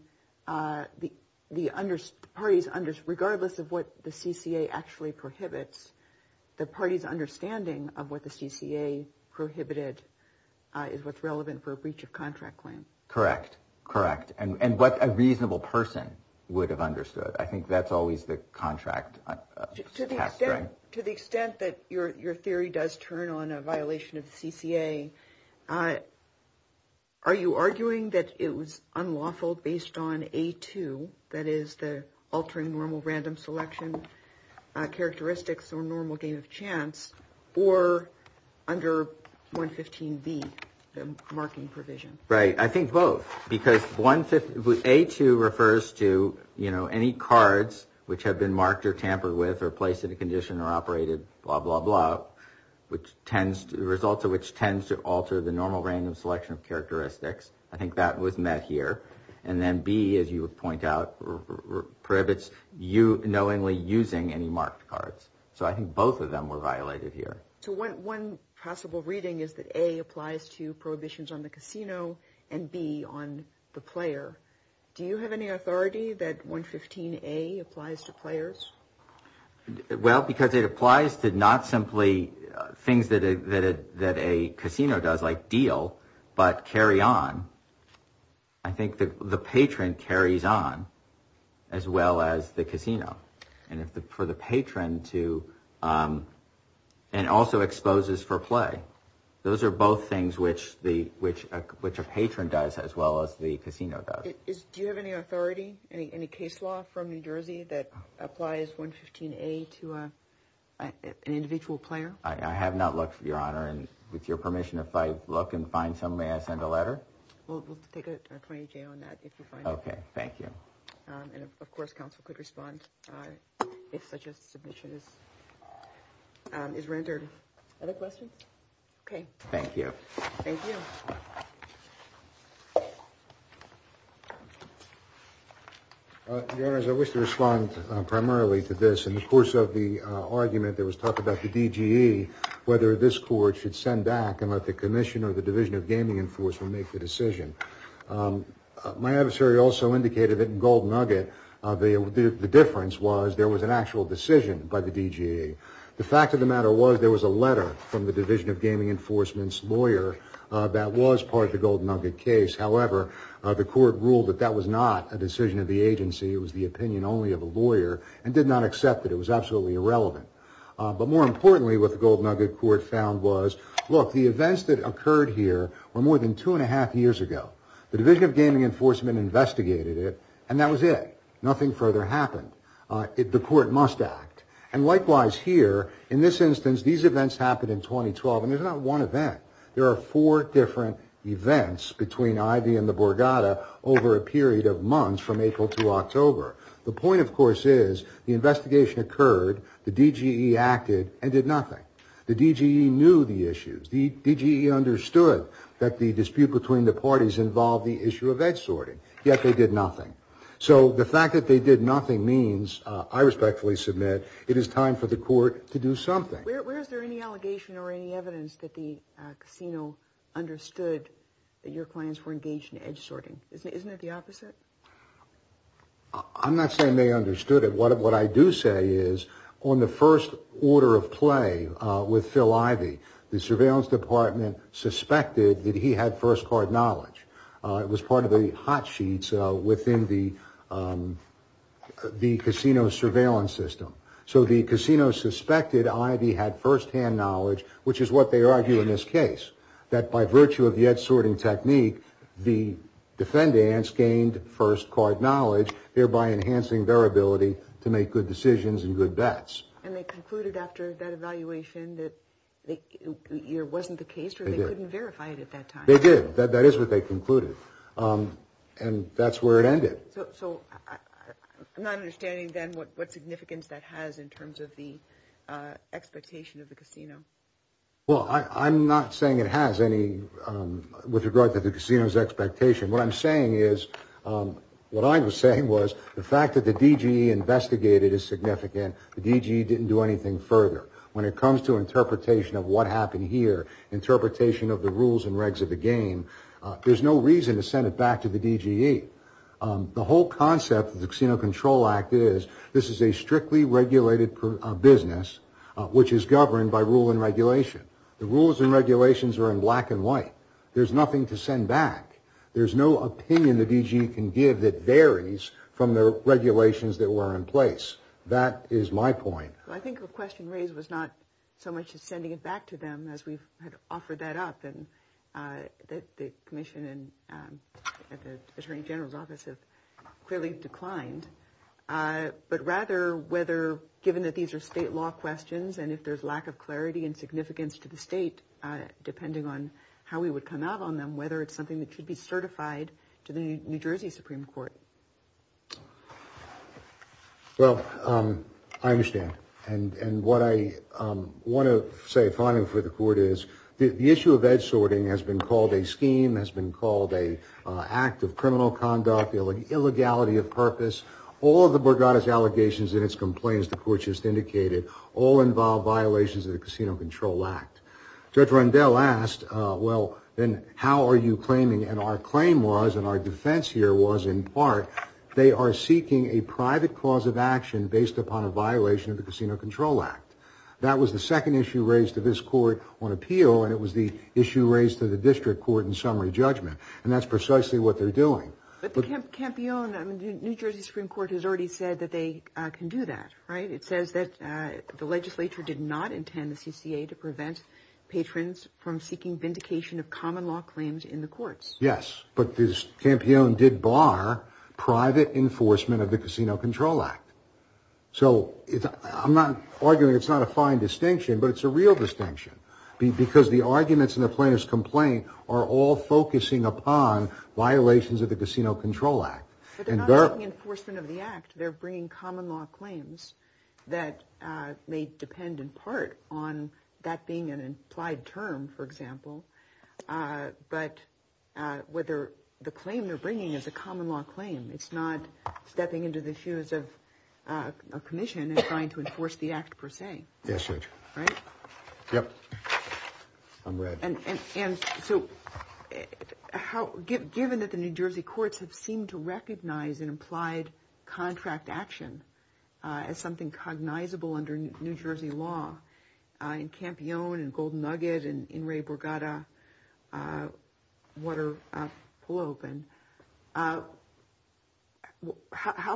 the the parties under regardless of what the CCA actually prohibits, the party's understanding of what the CCA prohibited is what's relevant for a breach of contract claim. Correct. Correct. And what a reasonable person would have understood. I think that's always the contract to the extent that your your theory does turn on a violation of CCA. Are you arguing that it was unlawful based on a two? That is the altering normal random selection characteristics or normal game of chance or under one 15 B marking provision. Right. I think both, because one A2 refers to, you know, any cards which have been marked or tampered with or placed in a condition or operated, blah, blah, blah, which tends to result to which tends to alter the normal random selection of characteristics. I think that was met here. And then B, as you would point out, prohibits you knowingly using any marked cards. So I think both of them were violated here. So what one possible reading is that A applies to prohibitions on the casino and B on the player. Do you have any authority that one 15 A applies to players? Well, because it applies to not simply things that that that a casino does like deal, but carry on. I think the patron carries on as well as the casino. And if the for the patron to and also exposes for play, those are both things which the which which a patron does as well as the casino. Do you have any authority, any case law from New Jersey that applies one 15 A to an individual player? I have not looked for your honor. And with your permission, if I look and find some way, I send a letter. Well, we'll take it on that if you find. OK, thank you. And of course, counsel could respond if such a submission is rendered. Other questions. OK, thank you. Thank you. Your Honor, as I wish to respond primarily to this in the course of the argument, there was talk about the D.G.E. whether this court should send back and let the commission or the Division of Gaming Enforcement make the decision. My adversary also indicated that in Golden Nugget, the difference was there was an actual decision by the D.G.E. The fact of the matter was there was a letter from the Division of Gaming Enforcement's lawyer that was part of the Golden Nugget case. However, the court ruled that that was not a decision of the agency. It was the opinion only of a lawyer and did not accept that it was absolutely irrelevant. But more importantly, what the Golden Nugget court found was, look, the events that occurred here were more than two and a half years ago. The Division of Gaming Enforcement investigated it and that was it. Nothing further happened. If the court must act and likewise here in this instance, these events happened in 2012 and there's not one event. There are four different events between Ivy and the Borgata over a period of months from April to October. The point, of course, is the investigation occurred, the D.G.E. acted and did nothing. The D.G.E. knew the issues. The D.G.E. understood that the dispute between the parties involved the issue of edge sorting. Yet they did nothing. So the fact that they did nothing means, I respectfully submit, it is time for the court to do something. Where is there any allegation or any evidence that the casino understood that your clients were engaged in edge sorting? Isn't it the opposite? I'm not saying they understood it. What I do say is on the first order of play with Phil Ivy, the surveillance department suspected that he had first card knowledge. It was part of the hot sheets within the casino surveillance system. So the casino suspected Ivy had first hand knowledge, which is what they argue in this case, that by virtue of the edge sorting technique, the defendants gained first card knowledge, thereby enhancing their ability to make good decisions and good bets. And they concluded after that evaluation that it wasn't the case or they couldn't verify it at that time. They did. That is what they concluded. And that's where it ended. So I'm not understanding then what significance that has in terms of the expectation of the casino. Well, I'm not saying it has any with regard to the casino's expectation. What I'm saying is what I was saying was the fact that the DG investigated is significant. The DG didn't do anything further when it comes to interpretation of what happened here, interpretation of the rules and regs of the game. There's no reason to send it back to the DG. The whole concept of the Casino Control Act is this is a strictly regulated business, which is governed by rule and regulation. The rules and regulations are in black and white. There's nothing to send back. There's no opinion the DG can give that varies from the regulations that were in place. That is my point. I think the question raised was not so much as sending it back to them as we've offered that up. And the commission and the attorney general's office have clearly declined. But rather, whether given that these are state law questions and if there's lack of clarity and significance to the state, depending on how we would come out on them, whether it's something that should be certified to the New Jersey Supreme Court. Well, I understand. And what I want to say finally for the court is the issue of edge sorting has been called a scheme, has been called a act of criminal conduct, the illegality of purpose. All of the Borgata's allegations and its complaints, the court just indicated, all involve violations of the Casino Control Act. Judge Rendell asked, well, then how are you claiming? And our claim was and our defense here was, in part, they are seeking a private cause of action based upon a violation of the Casino Control Act. That was the second issue raised to this court on appeal. And it was the issue raised to the district court in summary judgment. And that's precisely what they're doing. But the campion New Jersey Supreme Court has already said that they can do that. Right. It says that the legislature did not intend the CCA to prevent patrons from seeking vindication of common law claims in the courts. Yes. But this campion did bar private enforcement of the Casino Control Act. So I'm not arguing it's not a fine distinction, but it's a real distinction because the arguments in the plaintiff's complaint are all focusing upon violations of the Casino Control Act. Enforcement of the act. They're bringing common law claims that may depend in part on that being an implied term, for example. But whether the claim they're bringing is a common law claim, it's not stepping into the shoes of a commission trying to enforce the act per se. Yes. Right. Yep. And so how given that the New Jersey courts have seemed to recognize an implied contract action as something cognizable under New Jersey law, how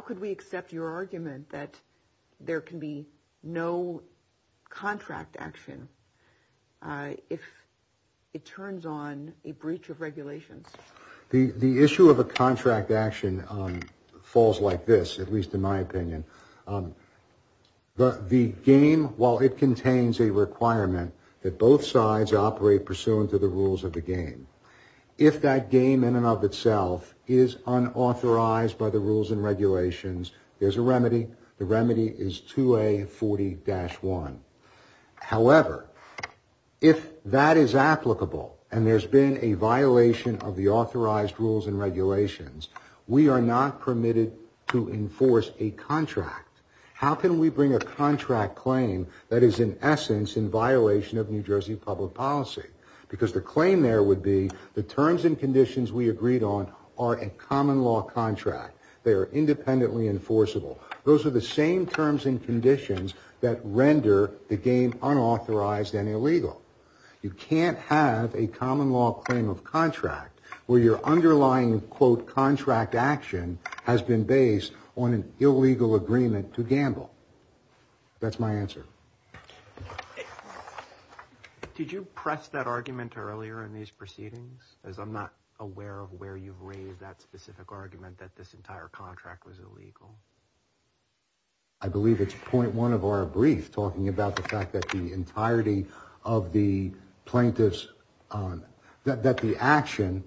could we accept your argument that there can be no contract action if it turns on a breach of regulations? The issue of a contract action falls like this, at least in my opinion. The game, while it contains a requirement that both sides operate pursuant to the rules of the game, if that game in and of itself is unauthorized by the rules and regulations, there's a remedy. The remedy is 2A40-1. However, if that is applicable and there's been a violation of the authorized rules and regulations, we are not permitted to enforce a contract. How can we bring a contract claim that is in essence in violation of New Jersey public policy? Because the claim there would be the terms and conditions we agreed on are a common law contract. They are independently enforceable. Those are the same terms and conditions that render the game unauthorized and illegal. You can't have a common law claim of contract where your underlying, quote, contract action has been based on an illegal agreement to gamble. That's my answer. Did you press that argument earlier in these proceedings? Because I'm not aware of where you've raised that specific argument that this entire contract was illegal. I believe it's point one of our brief talking about the fact that the entirety of the plaintiffs, that the action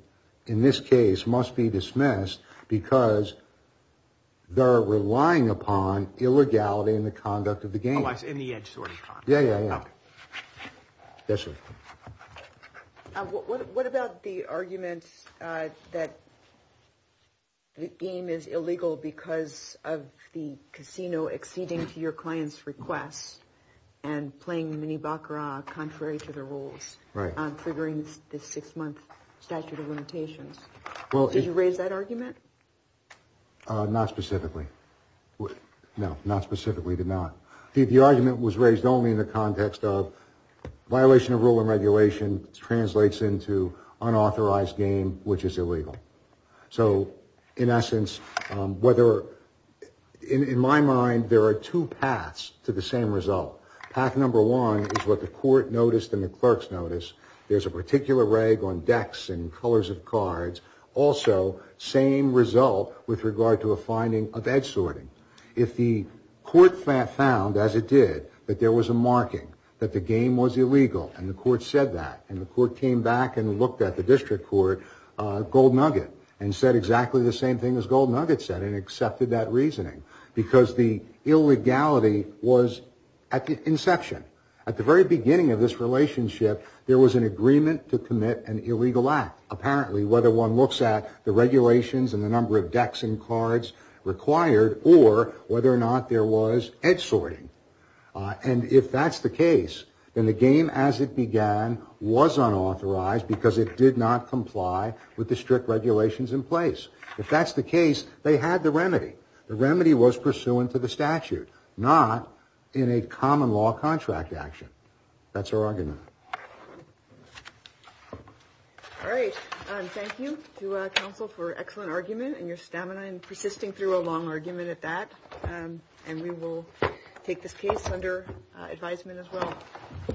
in this case must be dismissed because they're relying upon illegality in the conduct of the game. In the edge sort of. Yeah, yeah, yeah. Yes, sir. What about the arguments that. The game is illegal because of the casino exceeding to your client's requests and playing mini Baccarat contrary to the rules. Right. Figuring this six month statute of limitations. Well, did you raise that argument? Not specifically. No, not specifically did not. The argument was raised only in the context of violation of rule and regulation translates into unauthorized game, which is illegal. So in essence, whether in my mind, there are two paths to the same result. Path number one is what the court noticed in the clerk's notice. There's a particular rag on decks and colors of cards. Also, same result with regard to a finding of edge sorting. If the court found, as it did, that there was a marking that the game was illegal and the court said that and the court came back and looked at the district court gold nugget and said exactly the same thing as gold nugget said and accepted that reasoning because the illegality was at the inception. At the very beginning of this relationship, there was an agreement to commit an illegal act. Apparently, whether one looks at the regulations and the number of decks and cards required or whether or not there was edge sorting. And if that's the case, then the game as it began was unauthorized because it did not comply with the strict regulations in place. If that's the case, they had the remedy. The remedy was pursuant to the statute, not in a common law contract action. That's our argument. All right. Thank you to counsel for excellent argument and your stamina and persisting through a long argument at that. And we will take this case under advisement as well.